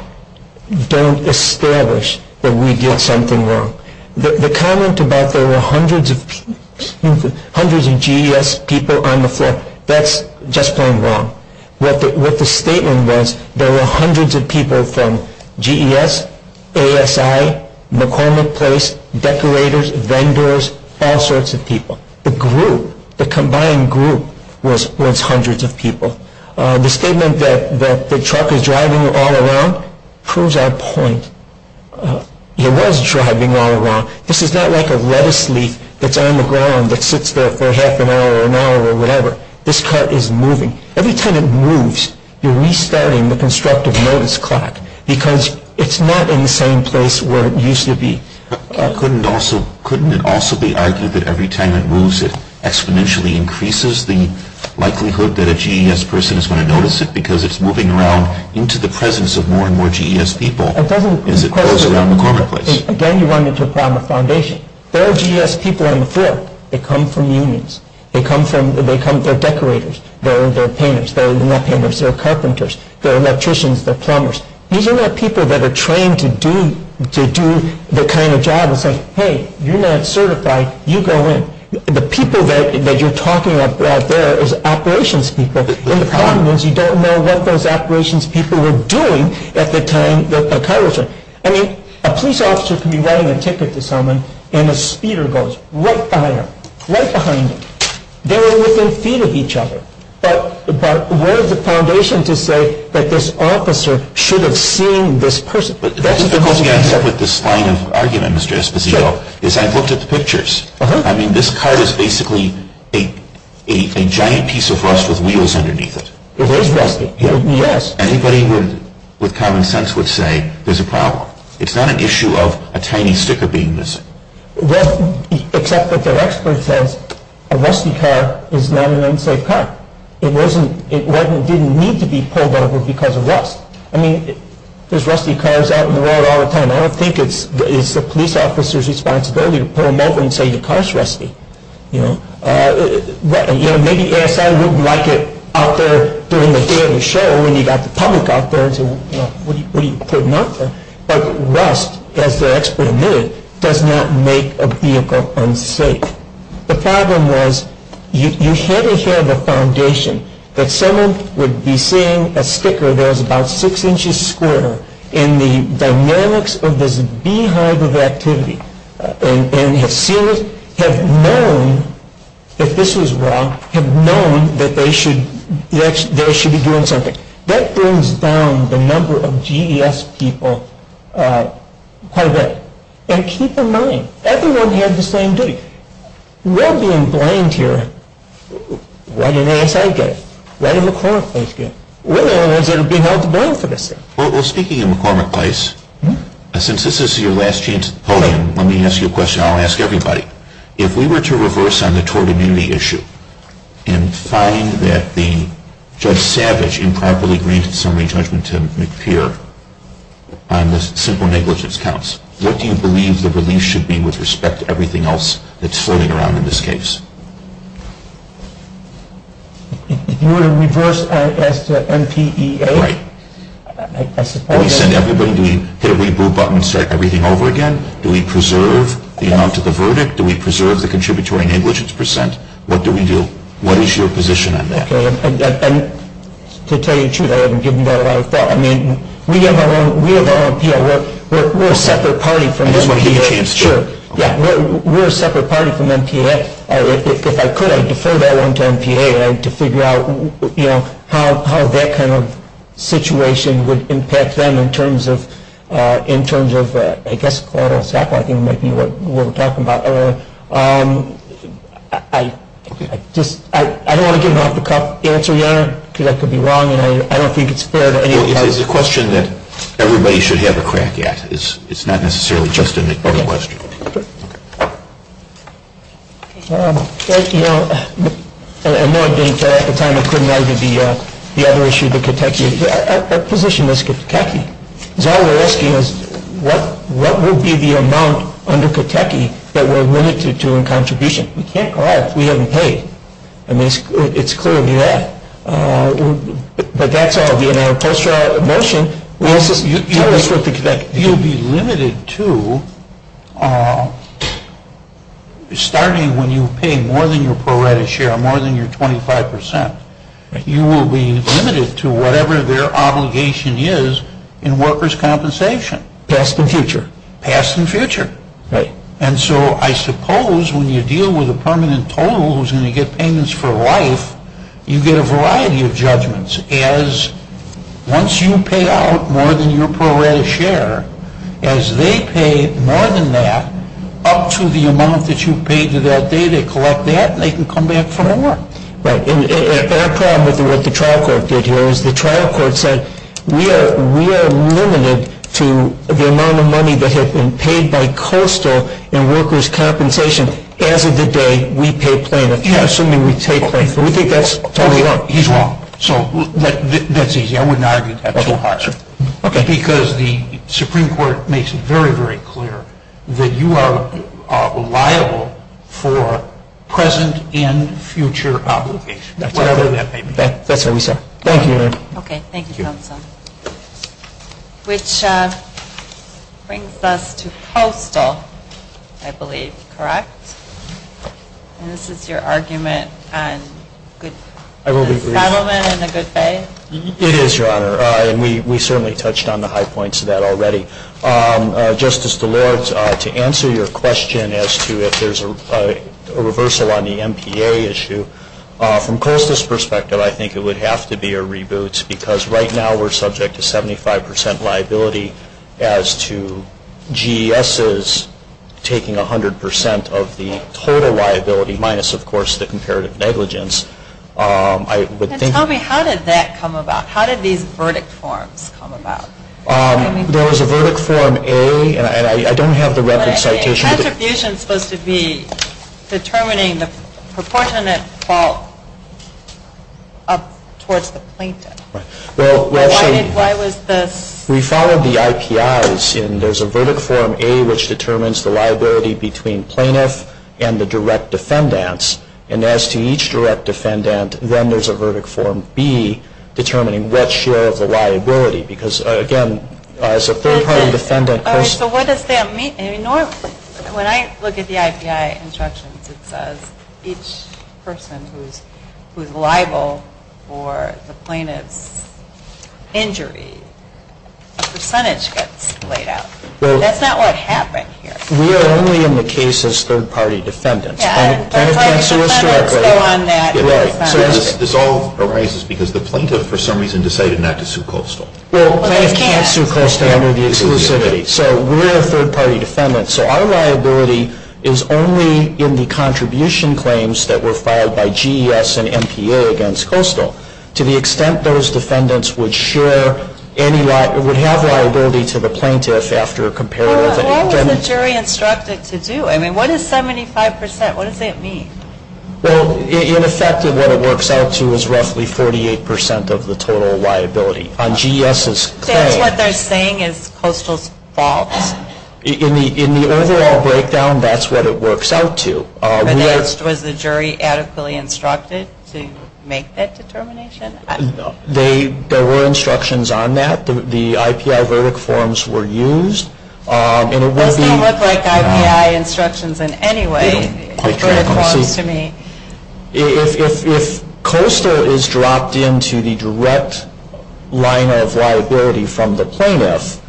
don't establish that we did something wrong. The comment about there were hundreds of GES people on the floor, that's just going wrong. What the statement was, there were hundreds of people from GES, ASI, McCormick Place, decorators, vendors, all sorts of people. The group, the combined group was hundreds of people. The statement that the truck is driving all along proves our point. It was driving all along. This is not like a lettuce leaf that's on the ground that sits there for half an hour or an hour or whatever. This cart is moving. Every time it moves, you're restarting the constructive notice clock, because it's not in the same place where it used to be. Couldn't it also be argued that every time it moves, it exponentially increases the likelihood that a GES person is going to notice it, because it's moving around into the presence of more and more GES people, and it goes around McCormick Place. Again, you run into the problem of foundation. All GES people on the floor, they come from unions. They're decorators. They're painters. They're carpenters. They're electricians. They're plumbers. These are not people that are trained to do the kind of job of saying, Hey, you're not certified. You go in. The people that you're talking about there is operations people, and the problem is you don't know what those operations people were doing at the time the car was there. I mean, a police officer can be writing a ticket to someone, and a speeder goes right behind them, right behind them. They were within feet of each other. But what is the foundation to say that this officer should have seen this person? That's the difficulty I have with this kind of argument, Mr. Esposito, is I've looked at the pictures. I mean, this car is basically a giant piece of rust with wheels underneath it. It is rusty. Yes. Anybody with common sense would say there's a problem. It's not an issue of a tiny sticker being missing. Well, except that the expert says a rusty car is not an unsafe car. It didn't need to be pulled over because of rust. I mean, there's rusty cars out in the world all the time. I don't think it's the police officer's responsibility to pull them over and say your car is rusty. Maybe ASI wouldn't like it out there during the day of the show when you've got the public out there, so what are you putting up for? But rust, as the expert admitted, does not make a vehicle unsafe. The problem was you had to have a foundation that someone would be seeing a sticker that was about six inches square in the dynamics of this beehive of activity and have seen it, have known that this was wrong, have known that they should be doing something. That brings down the number of GES people quite a bit. And keep in mind, everyone has the same duty. We're being blamed here. Why do ASI get it? Why do McCormick Place get it? We're the only ones that are being held to blame for this stuff. Well, speaking of McCormick Place, since this is your last chance, hold on, let me ask you a question I'll ask everybody. If we were to reverse on the tort immunity issue and find that the Judge Savage improperly granted summary judgment to McPhere on the simple negligence counts, what do you believe the relief should be with respect to everything else that's floating around in this case? If we were to reverse ISMPEA? Right. Do we hit a reboot button and start everything over again? Do we preserve the amount of the verdict? Do we preserve the contributory negligence percent? What do we do? What is your position on that? To tell you the truth, I haven't given that a lot of thought. I mean, we have our own PA. We're a separate party from MPA. That's what he thinks, too. Yeah, we're a separate party from MPA. If I could, I'd defer that one to MPA to figure out how that kind of situation would impact them in terms of, I guess, what we're talking about. I don't want to give off the answer yet because that could be wrong. I don't think it's fair to anybody. It's a question that everybody should have a crack at. It's not necessarily just an important question. At the time, I couldn't answer the other issue that could take you. Our position was Kentucky. All we're asking is, what would be the amount under Kentucky that we're limited to in contribution? We can't call if we haven't paid. I mean, it's clearly that. But that's all being an imposter motion. You'll be limited to starting when you pay more than your prorated share, more than your 25%. You will be limited to whatever their obligation is in workers' compensation. Past and future. Past and future. And so I suppose when you deal with a permanent total who's going to get payments for life, you get a variety of judgments as once you pay out more than your prorated share, as they pay more than that, up to the amount that you've paid to that day, they collect that and they can come back for more. Right. And our problem with what the trial court did here was the trial court said, we are limited to the amount of money that has been paid by Coastal in workers' compensation. As of the day, we pay payment. You have something we pay payment for. We think that's totally wrong. He's wrong. So that's easy. I would not argue with that. Okay. Because the Supreme Court makes it very, very clear that you are liable for present and future obligations. That's all I have to say. That's what we said. Thank you. Okay. Thank you, Councilman. Which brings us to Coastal, I believe, correct? And this is your argument on good settlement and a good pay? It is, Your Honor. And we certainly touched on the high points of that already. Justice DeLords, to answer your question as to if there's a reversal on the MPA issue, from Coastal's perspective, I think it would have to be a reboot, because right now we're subject to 75% liability as to GESs taking 100% of the total liability, minus, of course, the comparative negligence. Then tell me, how did that come about? How did these verdict forms come about? There was a verdict form A, and I don't have the record citation. The attribution is supposed to be determining the proportionate fault towards the plaintiff. Why was this? We followed the IPIs, and there's a verdict form A, which determines the liability between plaintiff and the direct defendants. And as to each direct defendant, then there's a verdict form B, determining what share of the liability, because, again, as a third-party defendant, So what does that mean? When I look at the IPI instructions, it says each person who is liable for the plaintiff's injury, a percentage gets laid out. That's not what happened here. We are only in the case as third-party defendants. Yes. I understand. So this all arises because the plaintiff, for some reason, decided not to sue Coastal. Well, they can't sue Coastal under the exclusivity. So we're a third-party defendant, so our liability is only in the contribution claims that were filed by GES and MPA against Coastal. To the extent those defendants would share any liability, would have liability to the plaintiff after a comparative negligence. Well, what were the jury instructed to do? I mean, what is 75%? What does that mean? Well, in effect, what it works out to is roughly 48% of the total liability on GES's claim. So what they're saying is Coastal is false. In the overall breakdown, that's what it works out to. Was the jury adequately instructed to make that determination? There were instructions on that. The IPI verdict forms were used. It didn't look like IPI instructions in any way. It's very close to me. If Coastal is dropped into the direct line of liability from the plaintiff,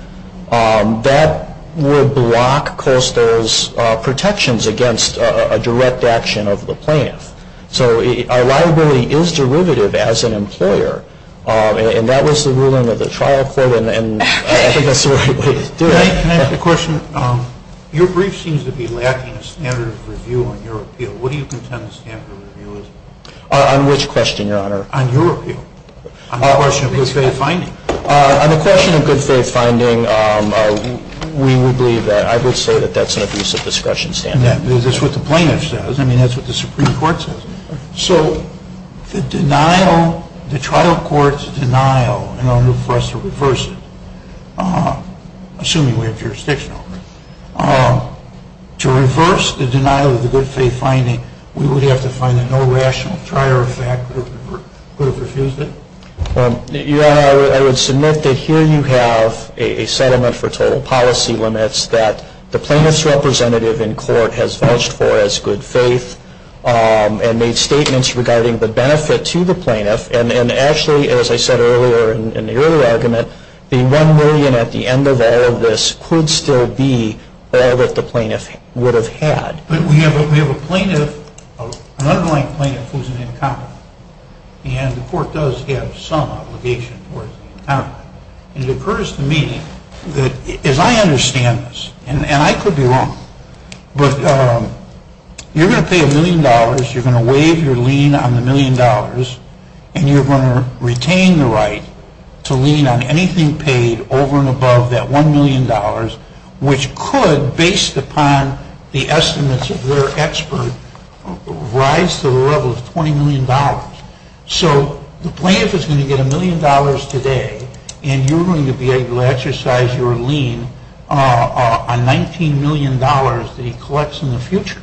that would block Coastal's protections against a direct action of the plaintiff. So our liability is derivative as an employer, and that is the ruling of the trial court, and I think that's the way to do it. Can I ask a question? Your brief seems to be lacking a standard of review on your appeal. What do you contend the standard of review is? On which question, Your Honor? On your appeal. On the question of good faith finding. On the question of good faith finding, we would believe that. I would say that that's an abuse of discretion standpoint. Is this what the plaintiff says? I mean, that's what the Supreme Court says. So the denial, the trial court's denial, in order for us to reverse it, assuming we're in jurisdiction over it, to reverse the denial of the good faith finding, we would have to find a no rational trier of fact that would have refused it? Your Honor, I would submit that here you have a settlement for total policy limits that the plaintiff's representative in court has vouched for as good faith, and made statements regarding the benefit to the plaintiff, and actually, as I said earlier in the earlier argument, the one million at the end of all of this could still be all that the plaintiff would have had. But we have a plaintiff, an underlying plaintiff, who's an incompetent, and the court does give some obligation for it. Now, it occurs to me that, as I understand this, and I could be wrong, but you're going to pay a million dollars, you're going to waive your lien on the million dollars, and you're going to retain the right to lien on anything paid over and above that one million dollars, which could, based upon the estimates of their expert, rise to the level of $20 million. So the plaintiff is going to get a million dollars today, and you're going to be able to exercise your lien on $19 million that he collects in the future.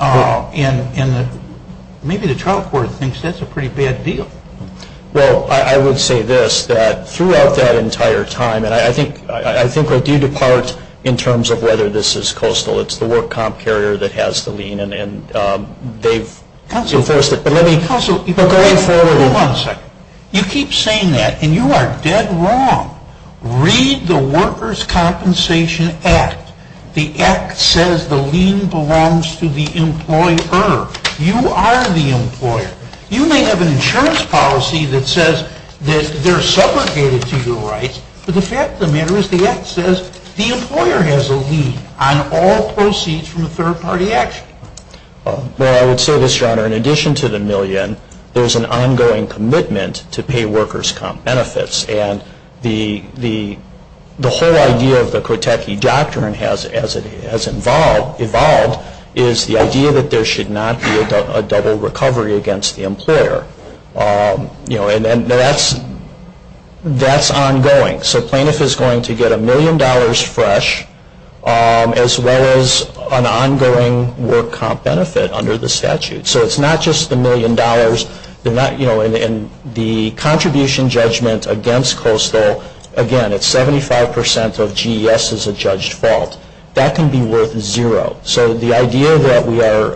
And maybe the trial court thinks that's a pretty bad deal. Well, I would say this, that throughout that entire time, and I think we're due to part in terms of whether this is coastal. It's the work comp carrier that has the lien, and they've enforced it. Hold on one second. You keep saying that, and you are dead wrong. Read the Workers' Compensation Act. The Act says the lien belongs to the employer. You are the employer. You may have an insurance policy that says that they're subrogated to your rights, but the fact of the matter is the Act says the employer has a lien on all proceeds from a third-party action. Well, I would say this, Your Honor. In addition to the million, there's an ongoing commitment to pay workers' comp benefits, and the whole idea of the Kotecki Doctrine, as it has evolved, is the idea that there should not be a double recovery against the employer, and that's ongoing. So plaintiff is going to get a million dollars fresh as well as an ongoing work comp benefit under the statute. So it's not just the million dollars. In the contribution judgment against coastal, again, it's 75 percent of GES's adjudged fault. That can be worth zero. So the idea that we are,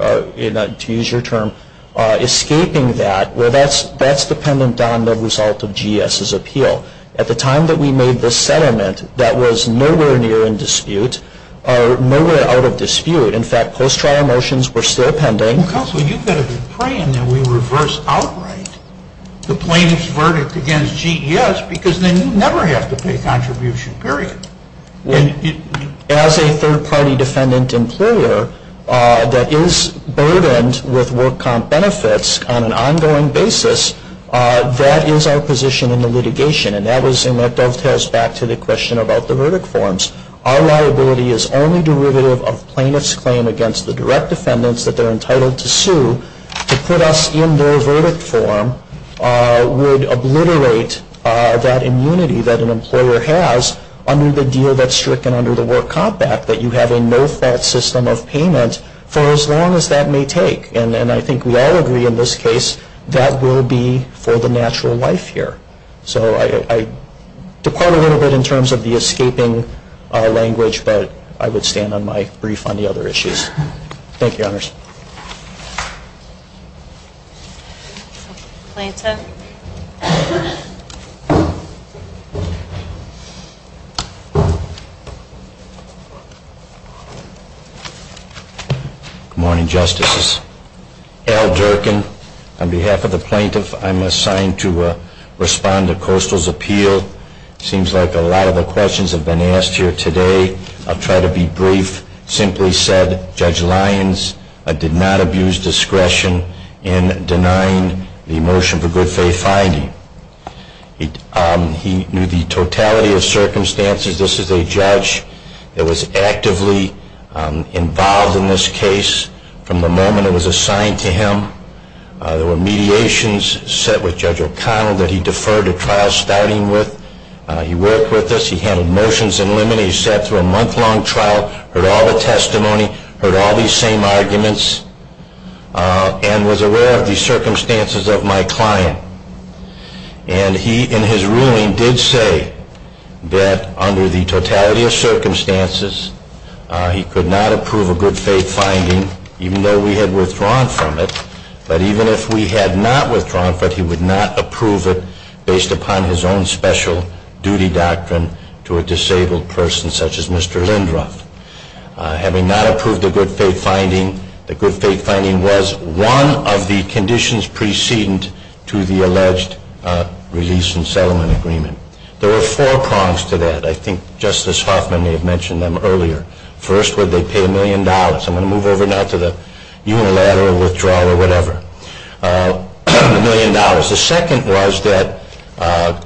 to use your term, escaping that, well, that's dependent on the result of GES's appeal. At the time that we made this settlement, that was nowhere near in dispute or nowhere out of dispute. In fact, post-trial motions were still pending. Counsel, you could have been praying that we reverse outright the plaintiff's verdict against GES because then you'd never have to pay contribution, period. As a third-party defendant employer that is burdened with work comp benefits on an ongoing basis, that is our position in the litigation, and that dovetails back to the question about the verdict forms. Our liability is only derivative of plaintiff's claim against the direct defendants that they're entitled to sue. To put us in their verdict form would obliterate that immunity that an employer has under the deal that's stricken under the work comp act, that you have a no-fat system of payment for as long as that may take. And then I think we all agree in this case that will be for the natural life here. So I did quite a little bit in terms of the escaping language, but I would stand on my brief on the other issues. Thank you, Honors. Thank you. Good morning, Justices. Al Durkin, on behalf of the plaintiff, I'm assigned to respond to Coastal's appeal. It seems like a lot of the questions have been asked here today. I'll try to be brief. The plaintiff simply said Judge Lyons did not abuse discretion in denying the motion for good faith finding. He knew the totality of circumstances. This is a judge that was actively involved in this case from the moment it was assigned to him. There were mediations set with Judge O'Connell that he deferred to trial styling with. He worked with us. He handed motions in limine. He sat through a month-long trial, heard all the testimony, heard all these same arguments, and was aware of the circumstances of my client. And he, in his ruling, did say that under the totality of circumstances, he could not approve a good faith finding even though we had withdrawn from it. But even if we had not withdrawn from it, he would not approve it based upon his own special duty doctrine to a disabled person such as Mr. Lindroth. Having not approved the good faith finding, the good faith finding was one of the conditions preceding to the alleged release and settlement agreement. There were four prongs to that. I think Justice Hoffman may have mentioned them earlier. First, where they paid a million dollars. I'm going to move over now to the unilateral withdrawal or whatever. A million dollars. The second was that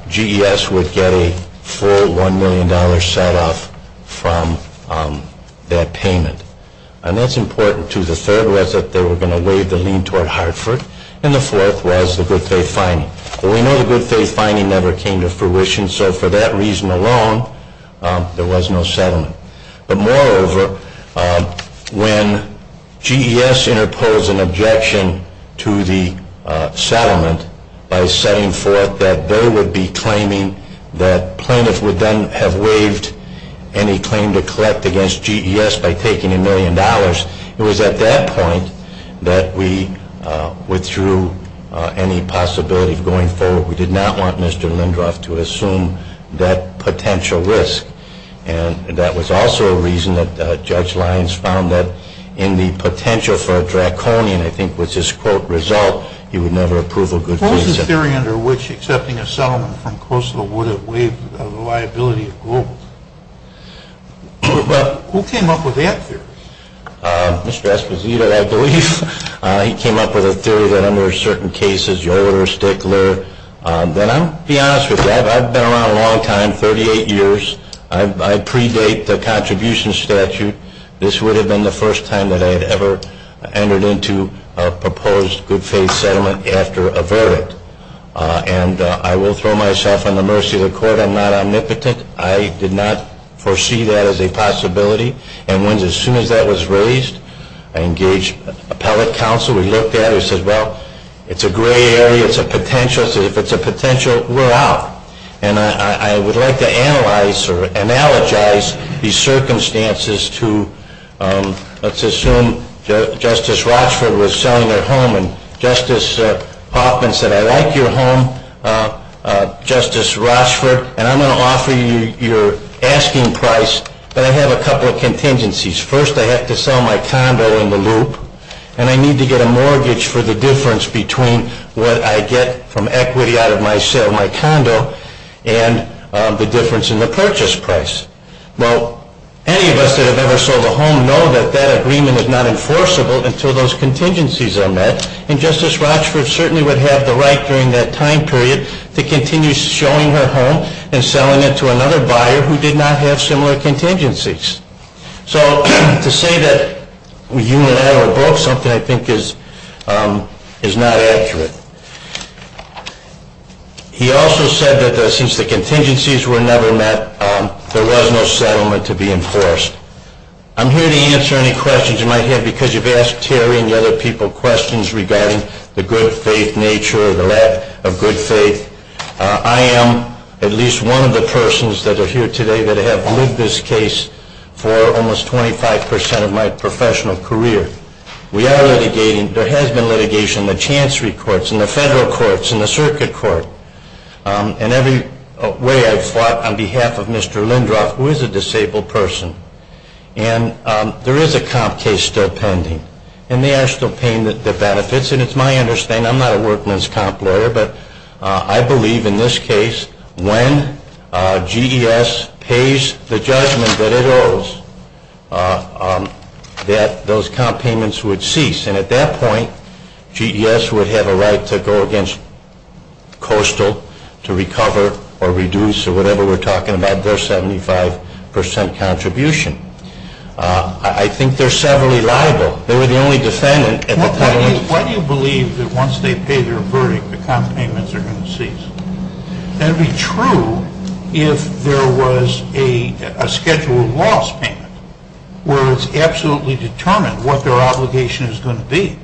GES would get a full $1 million set off from that payment. And that's important, too. The third was that they were going to waive the lien toward Hartford. And the fourth was the good faith finding. We know the good faith finding never came to fruition. So for that reason alone, there was no settlement. But moreover, when GES interposed an objection to the settlement by setting forth that they would be claiming that plaintiffs would then have waived any claim to collect against GES by taking a million dollars, it was at that point that we withdrew any possibility going forward. We did not want Mr. Lindroth to assume that potential risk. And that was also a reason that Judge Lyons found that in the potential for a draconian, I think was his quote, result, he would never approve a good faith settlement. What was the theory under which accepting a settlement from Coastal would have waived the liability of Global? Who came up with that theory? Mr. Esposito, I believe. He came up with a theory that under certain cases, Yoder or Stickler. I'll be honest with you. I've been around a long time, 38 years. I predate the contribution statute. This would have been the first time that I had ever entered into a proposed good faith settlement after a verdict. And I will throw myself on the mercy of the court. I'm not omnipotent. I did not foresee that as a possibility. And as soon as that was raised, I engaged appellate counsel. We looked at it and said, well, it's a gray area. It's a potential. If it's a potential, we're out. And I would like to analyze or analogize these circumstances to, let's assume, Justice Rochford was selling a home. And Justice Hoffman said, I like your home, Justice Rochford. And I'm going to offer you your asking price. But I have a couple of contingencies. First, I have to sell my condo in the loop. And I need to get a mortgage for the difference between what I get from equity out of my sale, my condo, and the difference in the purchase price. Now, any of us that have ever sold a home know that that agreement is not enforceable until those contingencies are met. And Justice Rochford certainly would have the right during that time period to continue showing her home and selling it to another buyer who did not have similar contingencies. So to say that you never bought something, I think, is not accurate. He also said that since the contingencies were never met, there was no settlement to be enforced. I'm here to answer any questions you might have because you've asked Terry and the other people questions regarding the good faith nature or the lack of good faith. I am at least one of the persons that are here today that have lived this case for almost 25% of my professional career. We are litigating. There has been litigation in the chancery courts, in the federal courts, in the circuit court, and every way I've fought on behalf of Mr. Lindroff, who is a disabled person. And there is a comp case still pending. And they are still paying the benefits. And it's my understanding, I'm not working as a comp lawyer, but I believe in this case, when GES pays the judgment that it owes, that those comp payments would cease. And at that point, GES would have a right to go against Coastal to recover or reduce or whatever we're talking about their 75% contribution. I think they're severally liable. Why do you believe that once they pay their verdict, the comp payments are going to cease? That would be true if there was a schedule of loss payment, where it's absolutely determined what their obligation is going to be.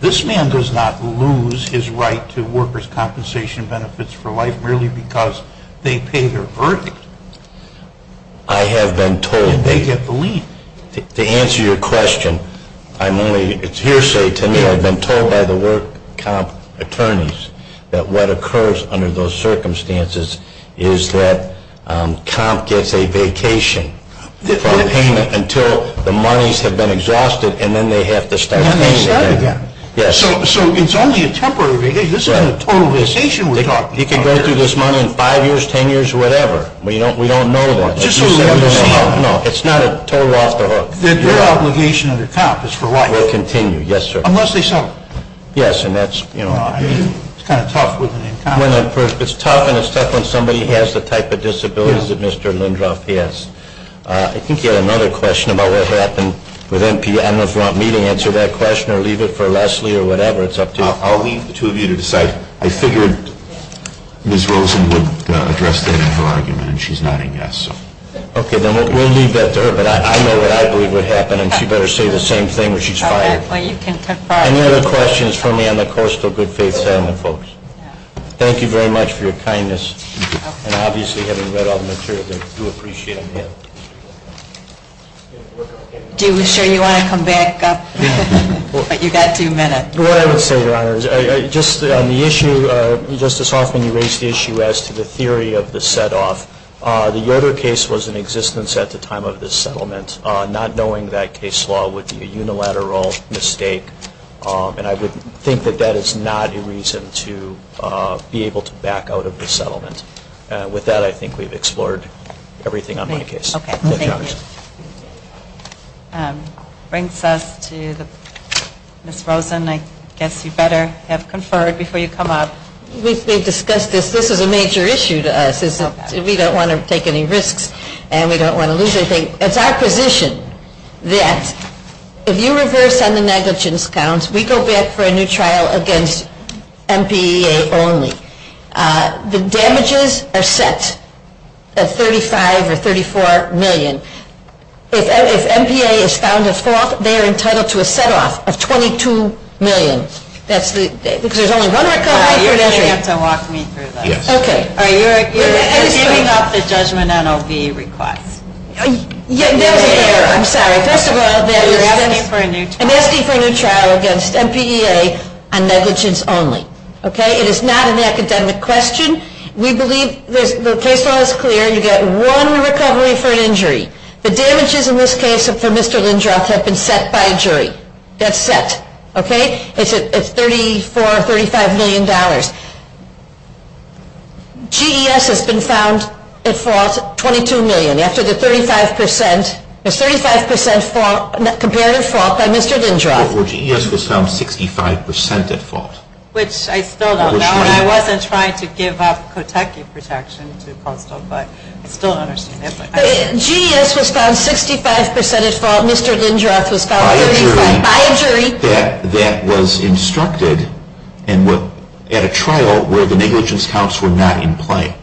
This man does not lose his right to workers' compensation benefits for life merely because they pay their verdict. I have been told. To answer your question, I merely, it's hearsay to me. I've been told by the work comp attorneys that what occurs under those circumstances is that comp gets a vacation from payment until the monies have been exhausted, and then they have to start paying again. So it's only a temporary relief. This is not a total realization we're talking about. You can go through this money in five years, ten years, whatever. We don't know that. No, it's not a total loss. Their obligation under comp is for life. Will continue, yes, sir. Unless they suffer. Yes, and that's, you know. It's kind of tough. It's tough when somebody has the type of disabilities that Mr. Lindroth has. I think you had another question about what happened with MP. I don't know if you want me to answer that question or leave it for Leslie or whatever. It's up to you. I'll leave it to you to decide. I figured Ms. Rosen would address the natural argument, and she's nodding yes. Okay, then we'll leave that to her, but I know what I believe would happen, and she better say the same thing when she's fired. Any other questions for me on the course for good faith family folks? Thank you very much for your kindness, and obviously having read all the material, I do appreciate it. Are you sure you want to come back up? You've got a few minutes. What I would say, Your Honor, just on the issue, just to soften the raised issue as to the theory of the set-off, the Yoder case was in existence at the time of this settlement. Not knowing that case law would be a unilateral mistake, and I would think that that is not a reason to be able to back out of the settlement. With that, I think we've explored everything on my case. Okay, thank you. This brings us to Ms. Rosen. I guess you better have conferred before you come up. We've discussed this. This is a major issue to us. We don't want to take any risks, and we don't want to lose anything. It's our position that if you reverse on the negligence counts, we go back for a new trial against MPEA only. The damages are set at $35 or $34 million. If MPEA is found as false, they are entitled to a set-off of $22 million. There's only one or two options. You're going to have to walk me through this. Okay. Are you arguing about the judgment on OB request? Yes, ma'am. I'm sorry. First of all, there has to be a new trial against MPEA on negligence only. Okay? It is not an academic question. We believe the case law is clear. You get one recovery for an injury. The damages in this case for Mr. Lindroth have been set by a jury. That's set. Okay? It's $34 or $35 million. GES has been found as false, $22 million. That's 35% compared to false by Mr. Lindroth. GES was found 65% at fault. Which I don't know. I wasn't trying to give up protective protection. GES was found 65% at fault. Mr. Lindroth was found at fault. By a jury. By a jury. That was instructed at a trial where the negligence counts were not in play.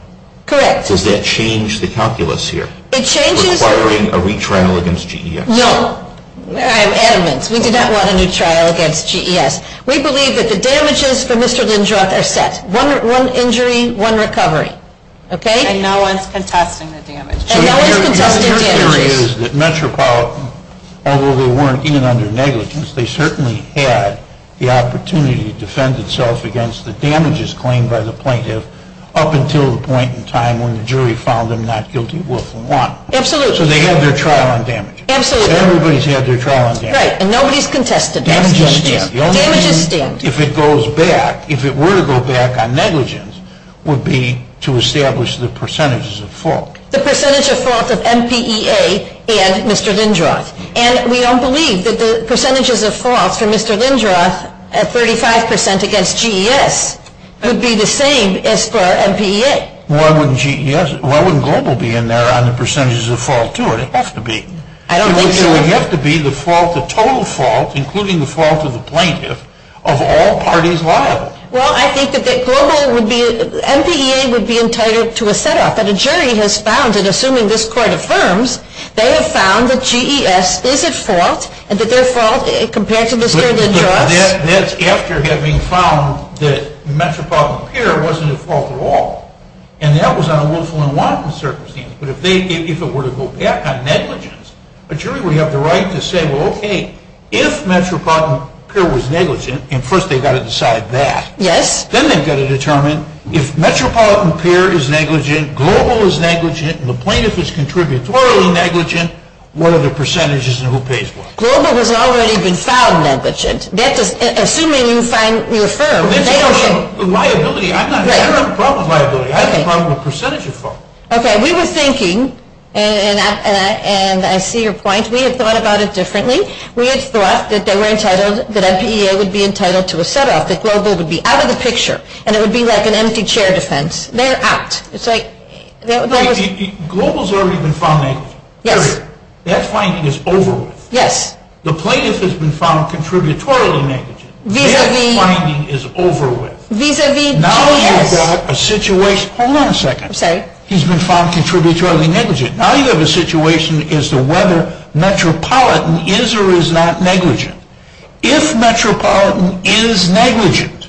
Correct. Does that change the calculus here? It changes the calculus. We're requiring a retrial against GES. No. We do not want a retrial against GES. We believe that the damages for Mr. Lindroth are set. One injury, one recovery. Okay? And no one's contesting the damages. The jury is that Metropolitan, although they weren't even under negligence, they certainly had the opportunity to defend themselves against the damages claimed by the plaintiff up until the point in time when the jury found them not guilty worth the want. Absolutely. So they had their trial on damages. Absolutely. Everybody's had their trial on damages. Right. And nobody's contested damages. The only reason, if it goes back, if it were to go back on negligence, would be to establish the percentages of fault. The percentage of fault of MPEA and Mr. Lindroth. And we don't believe that the percentages of fault for Mr. Lindroth at 35% against GES would be the same as for MPEA. Why wouldn't GES, why wouldn't Global be in there on the percentages of fault, too? It has to be. It would have to be the fault, the total fault, including the fault of the plaintiff, of all parties liable. Well, I think that Global would be, MPEA would be entitled to a set-up. But a jury has found, and assuming this court affirms, they have found that GES is at fault and that their fault compared to Mr. Lindroth. That's after having found that Metropolitan Superior wasn't at fault at all. And that was on a willful and wanton circumstance. But if it were to go back on negligence, a jury would have the right to say, well, okay, if Metropolitan Peer was negligent, and first they've got to decide that. Yes. Then they've got to determine if Metropolitan Peer is negligent, Global is negligent, and the plaintiff is contributorily negligent, what are the percentages and who pays what? Global has already been found negligent. That's assuming you find, you affirm, negligent. Liability, I'm not a problem with liability. I'm a problem with percentages of fault. Okay, we were thinking, and I see your point, we had thought about it differently. We had thought that MPEA would be entitled to a set-up, that Global would be out of the picture, and it would be like an empty chair defense. They're out. Global has already been found negligent. There, there. That finding is over with. Yes. The plaintiff has been found contributorily negligent. Their finding is over with. Now you've got a situation. Hold on a second. Okay. He's been found contributorily negligent. Now you have a situation as to whether Metropolitan is or is not negligent. If Metropolitan is negligent,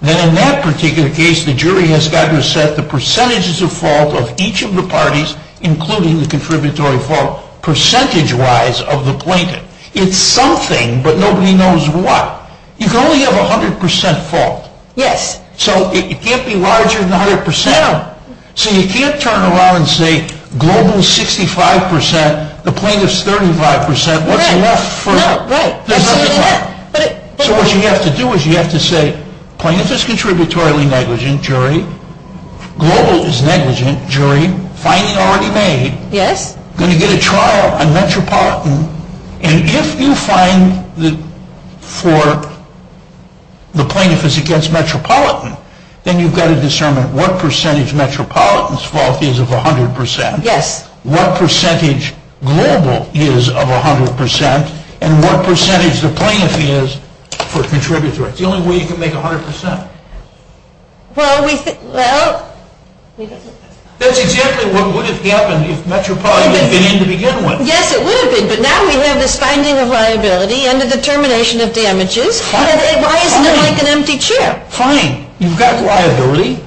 then in that particular case the jury has better set the percentages of fault of each of the parties, including the contributory fault, percentage-wise of the plaintiff. It's something, but nobody knows what. You can only have 100 percent fault. Yes. So it can't be larger than 100 percent of them. So you can't turn around and say Global is 65 percent, the plaintiff is 35 percent. Right. Right. It doesn't matter. So what you have to do is you have to say, plaintiff is contributorily negligent, jury. Global is negligent, jury. Finding's already made. Yes. Going to get a trial on Metropolitan. And if you find that for the plaintiff is against Metropolitan, then you've got to discern what percentage Metropolitan's fault is of 100 percent, what percentage Global is of 100 percent, and what percentage the plaintiff is for contributory. It's the only way you can make 100 percent. Well, we could, well. That's exactly what would have happened if Metropolitan had been in the beginning. Yes, it would have been. But now we have this finding of liability and the determination of damages. Why make an empty chair? Fine. You've got liability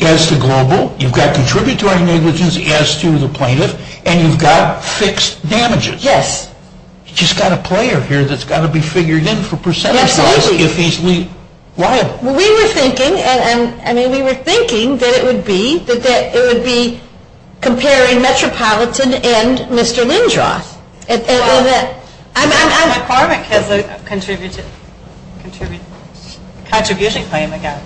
as to Global. You've got contributory negligence as to the plaintiff. And you've got fixed damages. Yes. You've just got a player here that's got to be figured in for percentage wise if he's liable. We were thinking, I mean, we were thinking that it would be, that it would be comparing Metropolitan and Mr. Lindroth. I'm far from a contributor claim, I guess.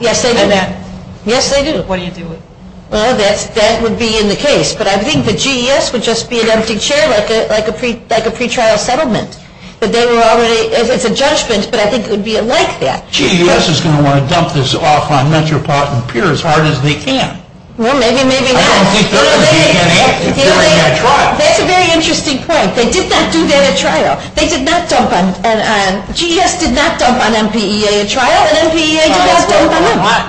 Yes, they do. Yes, they do. What do you do with it? Well, that would be in the case. But I think the GES would just be an empty chair like a pretrial settlement. It's a judgment, but I think it would be like that. GES is going to want to dump this off on Metropolitan Peer as hard as they can. Well, maybe, maybe not. That's a very interesting point. They did not do that at trial. They did not dump on, GES did not dump on MPEA at trial, and MPEA did not dump on them. What?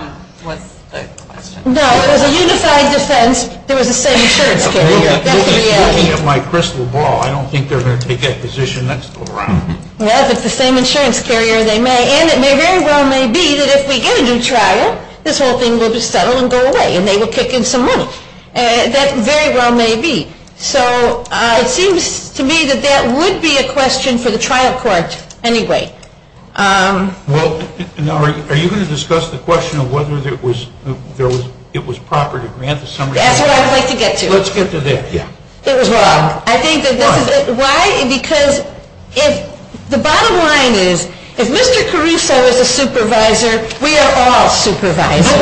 There was the same sort of thing. I'm looking at my crystal ball. I don't think they're going to take that position. That's the wrong one. Well, if it's the same insurance carrier, they may. And it very well may be that if we get a new trial, this whole thing will just settle and go away, and they will kick in some money. That very well may be. So, it seems to me that that would be a question for the trial court anyway. Well, are you going to discuss the question of whether it was proper to grant the summary? That's what I would like to get to. Let's get to that. It was wrong. Why? Because the bottom line is, if Mr. Caruso is a supervisor, we are all supervisors.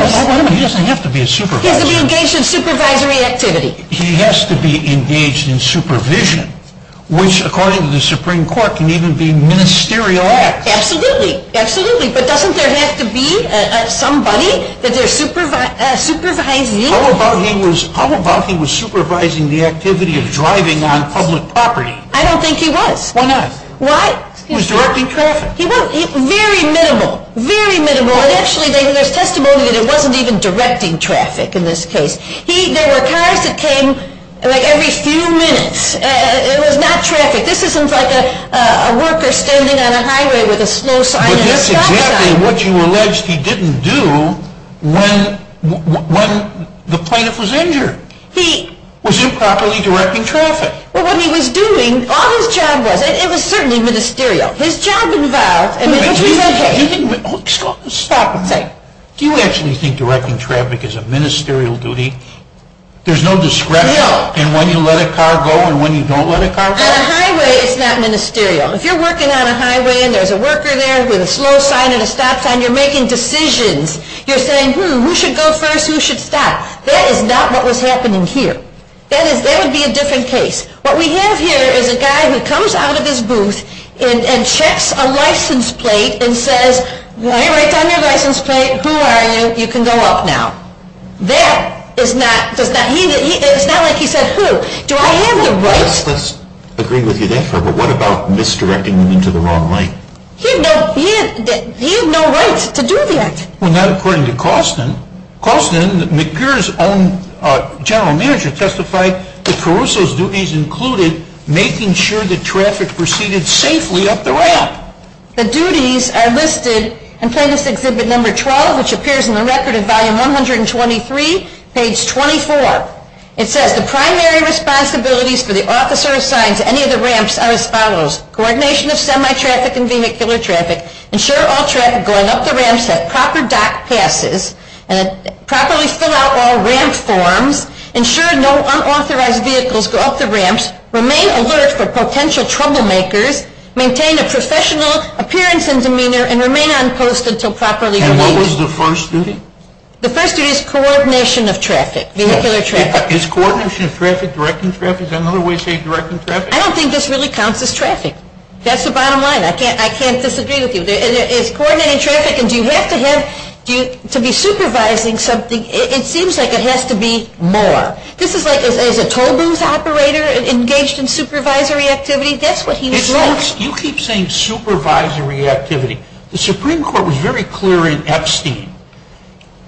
He doesn't have to be a supervisor. He has to be engaged in supervisory activity. He has to be engaged in supervision, which, according to the Supreme Court, can even be ministerial acts. Absolutely, absolutely. But doesn't there have to be somebody that they're supervising? How about he was supervising the activity of driving on public property? I don't think he was. Why not? Why? He was directing traffic. He was. Very minimal. Very minimal. Actually, there's testimony that he wasn't even directing traffic in this case. There were times it came every few minutes. It was not traffic. This isn't like a worker standing on a highway with a slow sign. But that's exactly what you allege he didn't do when the plaintiff was injured. He... Was improperly directing traffic. Well, what he was doing on his job was, it was certainly ministerial. His job involved... Stop a minute. Do you actually think directing traffic is a ministerial duty? There's no discretion. No. And when you let a car go and when you don't let a car go? On a highway, it's not ministerial. If you're working on a highway and there's a worker there with a slow sign and a stop sign, you're making decisions. You're saying, hmm, who should go first? Who should stop? That is not what was happening here. That is... That would be a different case. What we have here is a guy who comes out of his booth and checks a license plate and says, well, it's on your license plate. Who are you? You can go up now. That is not... It's not like he says, who? Do I have the right? Let's agree with you there, Trevor. What about misdirecting them into the wrong lane? He has no right to do that. Well, not according to Causton. Causton, McGirr's own general manager, testified that Caruso's duties included making sure that traffic proceeded safely up the ramp. The duties are listed. I'll tell you this, Exhibit Number 12, which appears in the Record of Volume 123, page 24. It says the primary responsibilities for the officer assigned to any of the ramps are as follows. Coordination of semi-traffic and vehicular traffic. Ensure all traffic going up the ramps has proper dock passes. Properly fill out all ramp forms. Ensure no unauthorized vehicles go up the ramps. Remain alert for potential troublemakers. Maintain a professional appearance and demeanor and remain on post until properly completed. And what was the first duty? The first duty is coordination of traffic, vehicular traffic. Is coordination of traffic directing traffic? Is that another way of saying directing traffic? I don't think this really counts as traffic. That's the bottom line. I can't disagree with you. It's coordinating traffic, and you have to have, to be supervising something, it seems like it has to be more. This is like, is a tollbooth operator engaged in supervisory activity? That's what he was like. You keep saying supervisory activity. The Supreme Court was very clear in Epstein.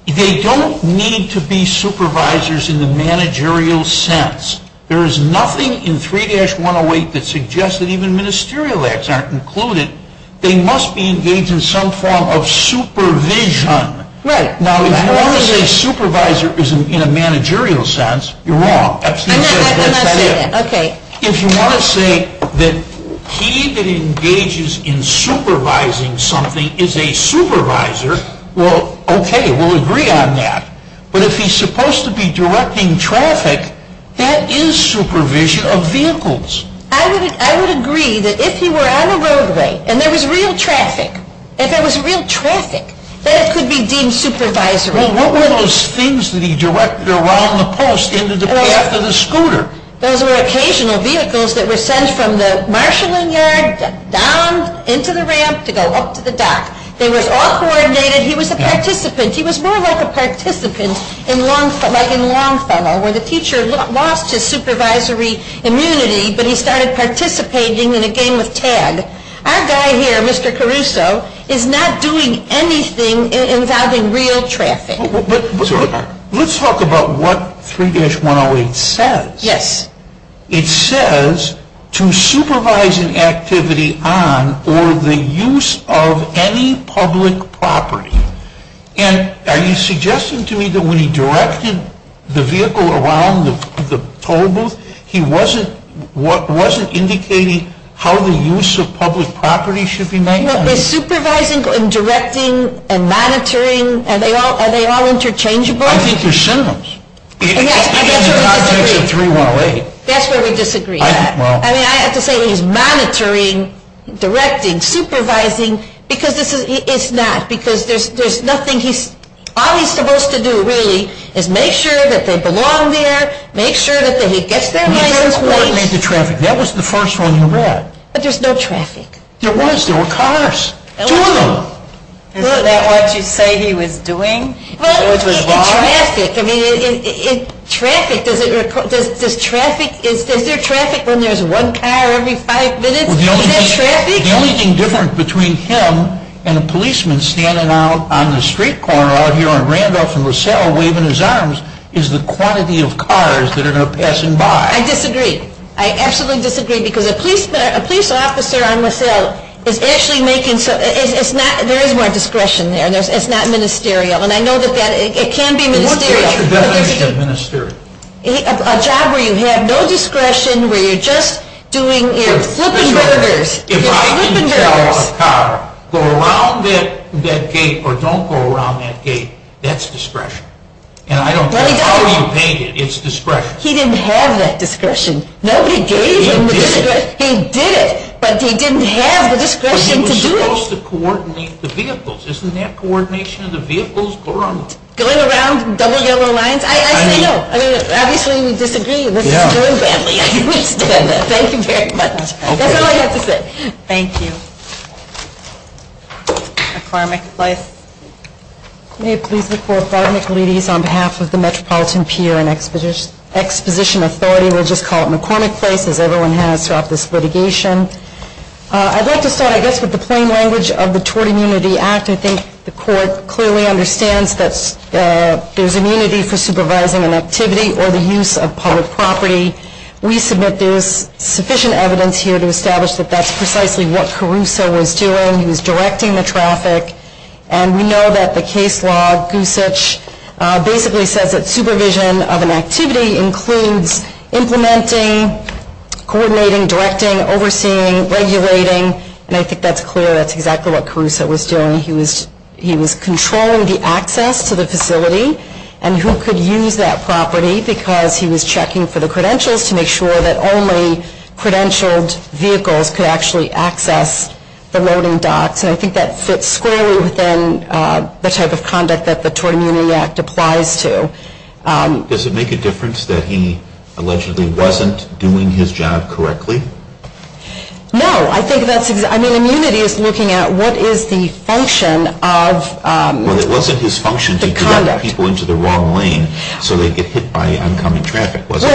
They don't need to be supervisors in the managerial sense. There is nothing in 3-108 that suggests that even ministerial acts aren't included. They must be engaged in some form of supervision. Right. Now, if you're a supervisor in a managerial sense, you're wrong. I'm not saying that. Okay. If you want to say that he that engages in supervising something is a supervisor, well, okay, we'll agree on that. But if he's supposed to be directing traffic, that is supervision of vehicles. I would agree that if you were on a roadway and there was real traffic, if there was real traffic, that could be deemed supervisory. Well, what were those things that he directed around the post after the scooter? Those were occasional vehicles that were sent from the marshalling yard down into the ramp to go up to the dock. They were all coordinated. He was a participant. He was more like a participant, like in Longfellow, where the teacher lost his supervisory immunity, but he started participating in a game of tag. Our guy here, Mr. Caruso, is not doing anything involving real traffic. Let's talk about what 3-108 says. It says, to supervise an activity on or the use of any public property. And are you suggesting to me that when he directed the vehicle around the toll booth, he wasn't indicating how the use of public property should be managed? Is supervising and directing and monitoring, are they all interchangeable? I think they're symbols. That's where we disagree. I have to say he's monitoring, directing, supervising, because it's not. Because there's nothing he's... All he's supposed to do, really, is make sure that they belong there, make sure that he gets there on time. Make it traffic. That was the first one you brought. But there's no traffic. There was. There were cars. Two of them. Isn't that what you say he was doing? Well, it's traffic. I mean, it's traffic. Does traffic... Is there traffic when there's one car every five minutes? Well, the only thing different between him and a policeman standing out on the street corner out here on Randolph and LaSalle waving his arms is the quantity of cars that are now passing by. I disagree. I absolutely disagree. Because a police officer on LaSalle is actually making... There is more discretion there. It's not ministerial. And I know that it can be ministerial. What's your definition of ministerial? A job where you have no discretion, where you're just doing your flipping burgers. If I see a car go around that gate or don't go around that gate, that's discretion. And I don't know how he made it. It's discretion. He didn't have that discretion. No, he did. He did it, but he didn't have the discretion to do it. But he was supposed to coordinate the vehicles. Isn't that coordination of the vehicles? Going around double yellow lines? I don't know. I mean, obviously, you disagree. Yeah. Thank you very much. That's all I have to say. Thank you. A farmer's life. May I please recall, farmers, ladies, on behalf of the Metropolitan Peer and Exposition Authority, we'll just call it McCormick site because everyone here has sought this litigation. I'd like to say, I guess with the plain language of the Tort Immunity Act, I think the court clearly understands that there's immunity for supervising an activity or the use of public property. We submit there is sufficient evidence here to establish that that's precisely what Caruso was doing. He was directing the traffic. And we know that the case log basically says that supervision of an activity includes implementing, coordinating, directing, overseeing, regulating. And I think that's clear that's exactly what Caruso was doing. He was controlling the access to the facility and who could use that property because he was checking for the credentials to make sure that only credentialed vehicles could actually access the loading docks. And I think that sits squarely within the type of conduct that the Tort Immunity Act applies to. Does it make a difference that he allegedly wasn't doing his job correctly? No. I mean, immunity is looking at what is the function of the conduct. Well, it wasn't his function to direct people into the wrong lane so they'd get hit by incoming traffic, was it?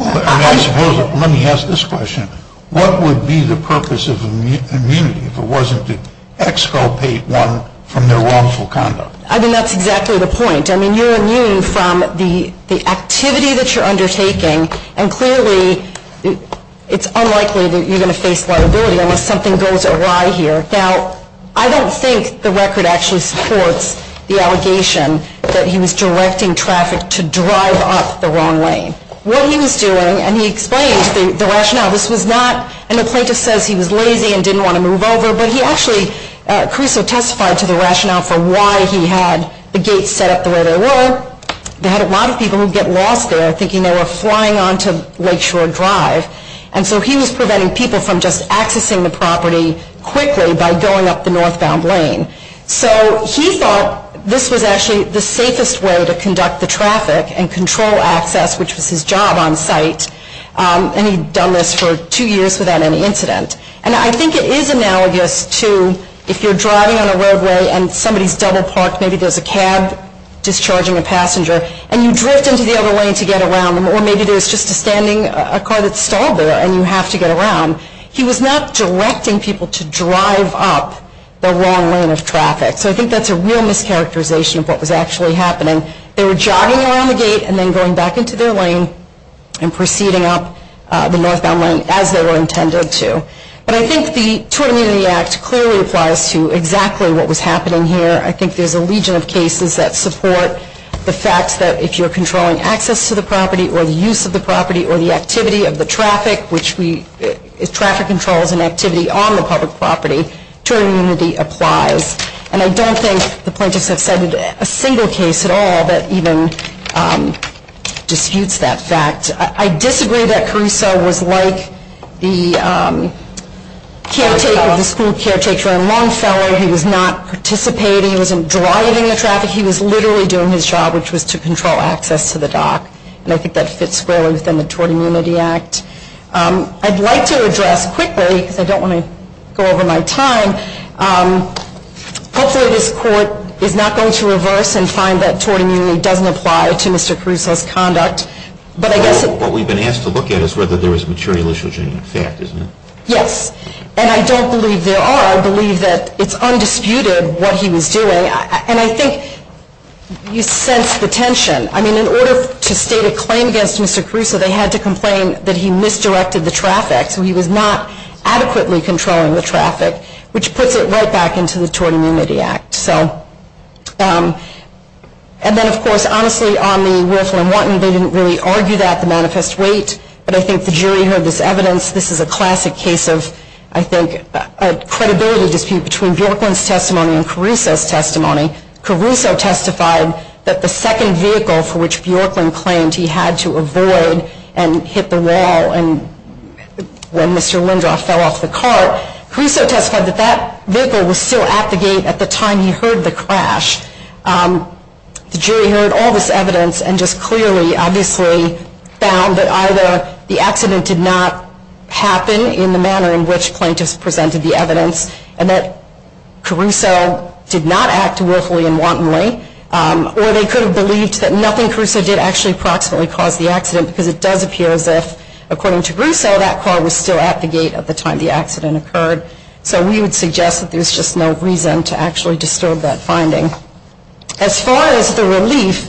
Let me ask this question. What would be the purpose of immunity if it wasn't to exculpate one from their wrongful conduct? I mean, that's exactly the point. I mean, you're immune from the activity that you're undertaking, and clearly it's unlikely that you're going to face liability unless something goes awry here. Now, I don't think the record actually supports the allegation that he was directing traffic to drive off the wrong lane. What he was doing, and he explained the rationale. This was not, and the plaintiff says he was lazy and didn't want to move over, but he actually, Caruso testified to the rationale for why he had the gates set up the way they were. They had a lot of people who'd get lost there thinking they were flying onto Lakeshore Drive. And so he was preventing people from just accessing the property quickly by going up the northbound lane. So he thought this was actually the safest way to conduct the traffic and control access, which was his job on site, and he'd done this for two years without any incident. And I think it is analogous to if you're driving on a roadway and somebody's double parked, maybe there's a cab discharging a passenger, and you drift into the other lane to get around them, or maybe there's just a standing car that's stalled there and you have to get around. He was not directing people to drive up the wrong lane of traffic. So I think that's a real mischaracterization of what was actually happening. They were jogging around the gate and then going back into their lane and proceeding up the northbound lane as they were intended to. But I think the totem in the act clearly applies to exactly what was happening here. I think there's a legion of cases that support the fact that if you're controlling access to the property or the use of the property or the activity of the traffic, which traffic controls an activity on the public property, true immunity applies. And I don't think the plaintiffs have studied a single case at all that even disputes that fact. And I disagree that Caruso was like the school caretaker on one side. He was not participating. He wasn't driving in the traffic. He was literally doing his job, which was to control access to the dock. And I think that fits squarely within the Tort Immunity Act. I'd like to address quickly, I don't want to go over my time, hopefully this court is not going to reverse and find that tort immunity doesn't apply to Mr. Caruso's conduct. What we've been asked to look at is whether there was material issues in the fact, isn't there? Yes. And I don't believe there are. I believe that it's undisputed what he was doing. And I think you sense the tension. I mean, in order to state a claim against Mr. Caruso, they had to complain that he misdirected the traffic. He was not adequately controlling the traffic, which puts it right back into the Tort Immunity Act. And then, of course, honestly, on the Wilson and Wharton, they didn't really argue that, the manifest weight. But I think the jury heard this evidence. This is a classic case of, I think, a credibility dispute between Bjorklund's testimony and Caruso's testimony. Caruso testified that the second vehicle for which Bjorklund claimed he had to avoid and hit the wall when Mr. Lindroth fell off the cart, Caruso testified that that vehicle was still at the gate at the time he heard the crash. The jury heard all this evidence and just clearly, obviously, found that either the accident did not happen in the manner in which plaintiffs presented the evidence, and that Caruso did not act willfully and wantonly, or they could have believed that nothing Caruso did actually approximately caused the accident, because it does appear that, according to Caruso, that car was still at the gate at the time the accident occurred. So we would suggest that there's just no reason to actually disturb that finding. As far as the relief,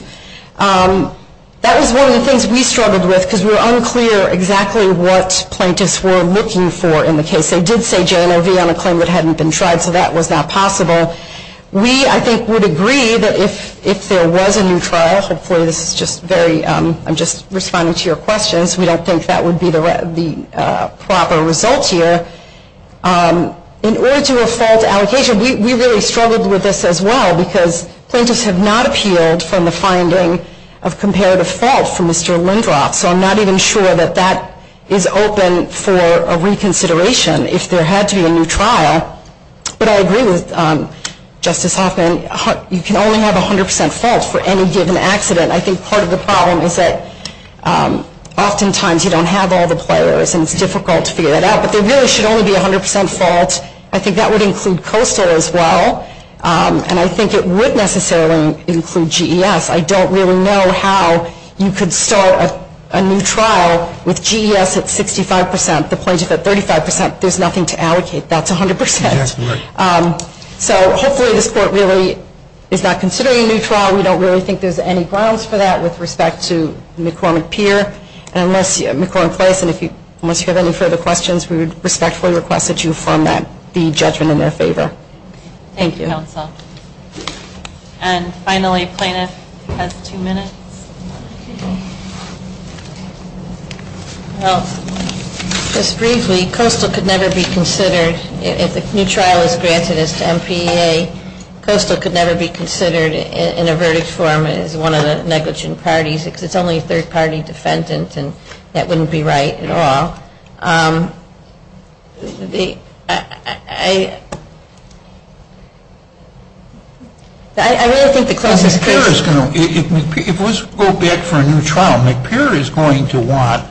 that was one of the things we struggled with, because we were unclear exactly what plaintiffs were looking for in the case. They did say J&OV on a claim that hadn't been tried, so that was not possible. We, I think, would agree that if there was a new trial, I'm just responding to your question, so we don't think that would be the proper result here. In order to assault allocation, we really struggled with this as well, because plaintiffs have not appeared from the finding of comparative faults from Mr. Lindroth, so I'm not even sure that that is open for reconsideration if there had to be a new trial. But I agree with Justice Hoffman. You can only have 100 percent faults for any given accident. I think part of the problem is that oftentimes you don't have all the players, and it's difficult to figure that out. But there really should only be 100 percent faults. I think that would include Caruso as well, and I think it would necessarily include GES. I don't really know how you could start a new trial with GES at 65 percent, the plaintiffs at 35 percent. There's nothing to allocate. That's 100 percent. So hopefully this court really is not considering a new trial. We don't really think there's any grounds for that with respect to McCormick-Peer. And unless you have any further questions, we would respectfully request that you fund that, the judgment in their favor. Thank you. And finally, plaintiffs have two minutes. Well, just briefly, Coastal could never be considered if a new trial is granted as MPA. Coastal could never be considered in a verdict form as one of the negligent parties because it's only a third-party defendant, and that wouldn't be right at all. If we go back for a new trial, McPeer is going to want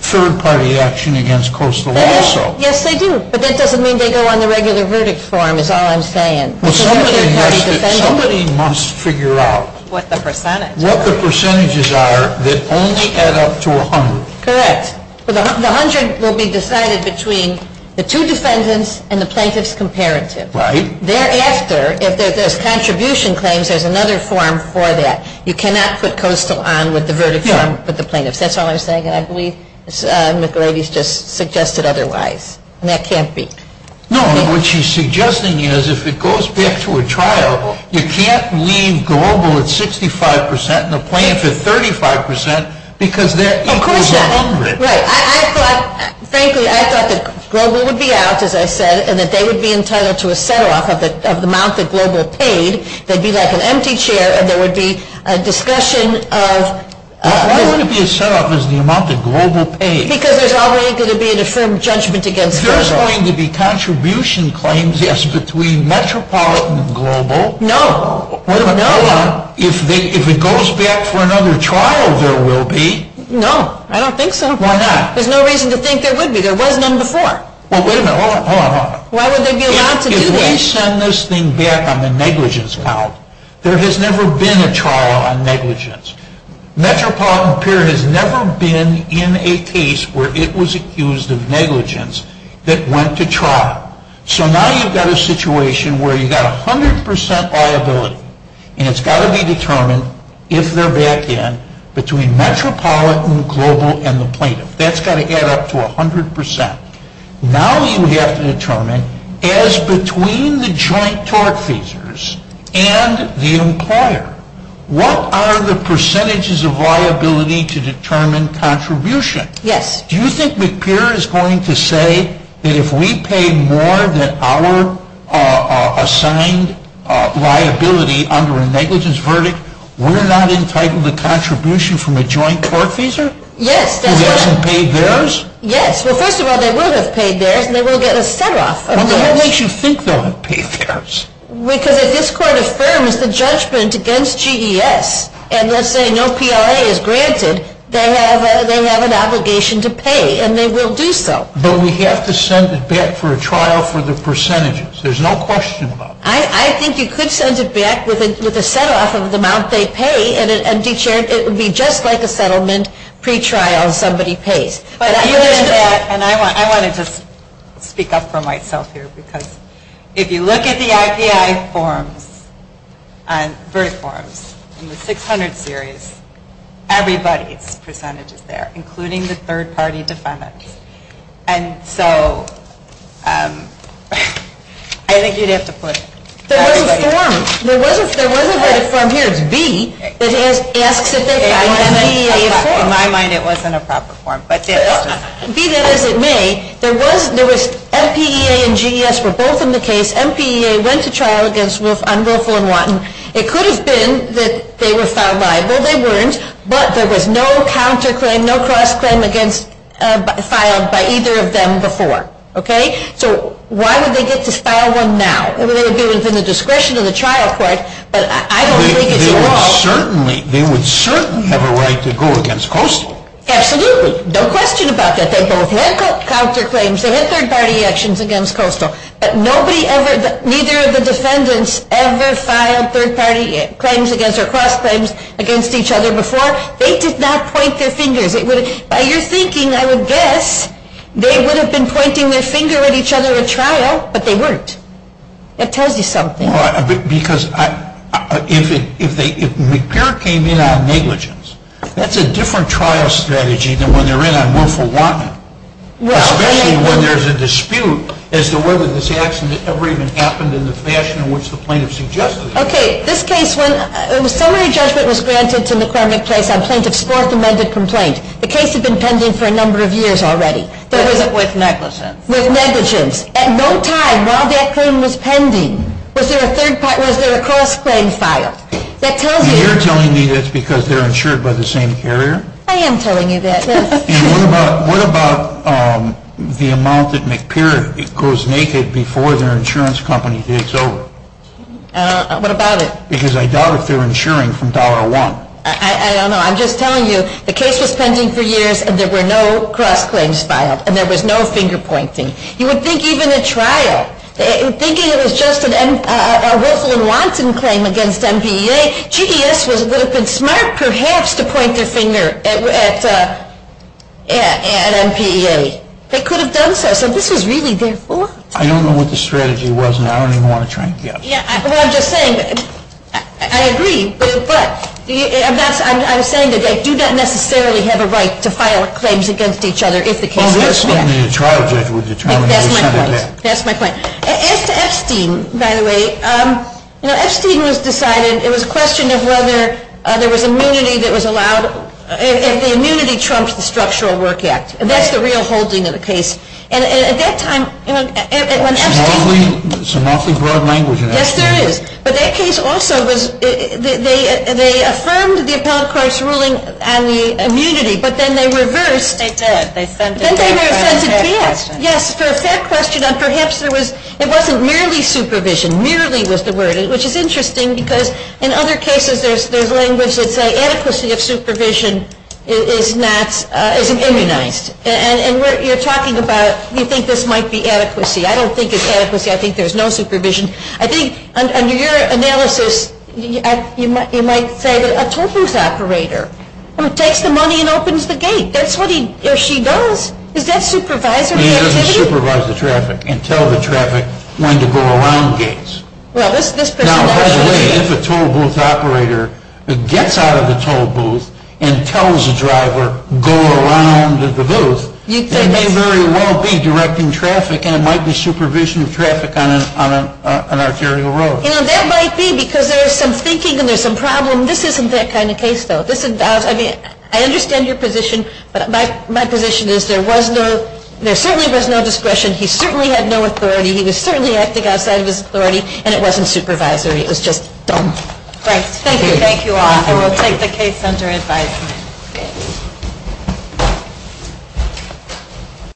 third-party action against Coastal also. Yes, they do. But that doesn't mean they go on the regular verdict form is all I'm saying. Somebody must figure out what the percentages are that only add up to 100. Correct. The 100 will be decided between the two defendants and the plaintiff's comparatives. Right. Thereafter, if there's contribution claims, there's another form for that. You cannot put Coastal on with the verdict form for the plaintiff. That's all I'm saying. I believe Ms. McElhady has just suggested otherwise, and that can't be. No, but what she's suggesting is if it goes back to a trial, you can't leave Global at 65% and the plaintiff at 35% because there is 100. Right. Frankly, I thought that Global would be out, as I said, and that they would be entitled to a set-off of the amount that Global paid. They'd be like an empty chair, and there would be a discussion of— Why would it be a set-off as the amount that Global paid? Because there's always going to be an affirmed judgment against Coastal. You're suggesting that the contribution claims, yes, between Metropolitan and Global— No. —but if it goes back for another trial, there will be— No, I don't think so. Why not? There's no reason to think there would be. There was none before. Well, wait a minute. Hold on, hold on. Why would there be an option to do that? If they send this thing back on the negligence pile, there has never been a trial on negligence. Metropolitan period has never been in a case where it was accused of negligence that went to trial. So now you've got a situation where you've got 100% liability, and it's got to be determined if they're back in between Metropolitan, Global, and the plaintiff. That's got to get up to 100%. Now you have to determine, as between the joint tort pleasers and the employer, what are the percentages of liability to determine contribution? Yes. Do you think McPeer is going to say that if we pay more than our assigned liability under a negligence verdict, we're not entitled to contribution from a joint tort pleaser? Yes. Who doesn't pay theirs? Yes. Well, first of all, they would have paid theirs, and they would have got a set-off. What makes you think they'll have paid theirs? Because if this court affirms the judgment against GES, and let's say no PLA is granted, they have an obligation to pay, and they will do so. But we have to send it back for a trial for the percentages. There's no question about that. I think you could send it back with a set-off of the amount they pay, and it would be just like a settlement pre-trial if somebody paid. And I want to just speak up for myself here, because if you look at the IPI verdict forms in the 600 series, everybody's percentage is there, including the third-party defendant. And so I think you'd have to put everybody. There wasn't a form. There wasn't a form. Here's B. In my mind, it wasn't a proper form. Be that as it may, there was MPEA and GES were both in the case. MPEA went to trial against Wolf, Ungrothal, and Watton. It could have been that they were found liable. They weren't, but there was no counterclaim, no cross-claim filed by either of them before. Okay? So why did they get to file one now? It was in the discretion of the trial court, but I don't think it was at all. They would certainly have a right to go against Coastal. Absolutely. No question about that. They both had counterclaims. They had third-party actions against Coastal. Nobody ever, neither of the defendants, ever filed third-party claims against or cross-claims against each other before. They did not point their fingers. By your thinking, I would guess they would have been pointing their finger at each other at trial, but they weren't. That tells you something. Because if MPEA came in on negligence, that's a different trial strategy than when they're in on Wolf or Watton. What's that? When there's a dispute as to whether this action ever even happened in the fashion in which the plaintiff suggested it. Okay. This case, when summary judgment was granted to McPear-McClay complaint, it's a fourth-amended complaint. The case had been pending for a number of years already. But was it with negligence? With negligence. At no time while that claim was pending was there a cross-claim file. You're telling me that's because they're insured by the same carrier? I am telling you that. And what about the amount that McPear goes naked before their insurance company gives over? What about it? Because I doubt that they're insuring from dollar one. I don't know. I'm just telling you the case was pending for years, and there were no cross-claims filed. And there was no finger-pointing. You would think even at trial, thinking it was just a Wolf or Watton claim against MPEA, GDS would have been smart perhaps to point their finger at MPEA. They could have done so. So this is really their fault. I don't know what the strategy was, and I don't even want to try to guess. Well, I'm just saying, I agree. But I'm not saying that you don't necessarily have a right to file a claim against each other if the case is pending. Well, that's something the trial judge would determine. That's my point. That's my point. As to Epstein, by the way, Epstein was decided. It was a question of whether there was immunity that was allowed. And the immunity trumped the Structural Work Act. And that's the real holding of the case. Some awfully broad language in that case. Yes, there is. But that case also was, they affirmed the appellate court's ruling on the immunity, but then they reversed. They did. Yes, so it's that question of perhaps there was, it wasn't merely supervision. Merely was the word, which is interesting because in other cases, their language would say adequacy of supervision is not, isn't immunized. And you're talking about, you think this might be adequacy. I don't think it's adequacy. I think there's no supervision. I think under your analysis, you might say that a tollbooth operator takes the money and opens the gate. That's what he or she does. Is that supervisory immunity? He doesn't supervise the traffic and tell the traffic when to go around gates. Well, let's put it that way. Let's put it that way. If a tollbooth operator gets out of the tollbooth and tells the driver, go around the booth, he may very well be directing traffic and might be supervising traffic on an arterial road. You know, that might be because there is some thinking and there's some problem. This isn't that kind of case, though. This is, I mean, I understand your position, but my position is there was no, there certainly was no discretion, he certainly had no authority, he was certainly acting outside of his authority, and it wasn't supervisory. It was just done. Thank you. Thank you all. I will take the case under insight.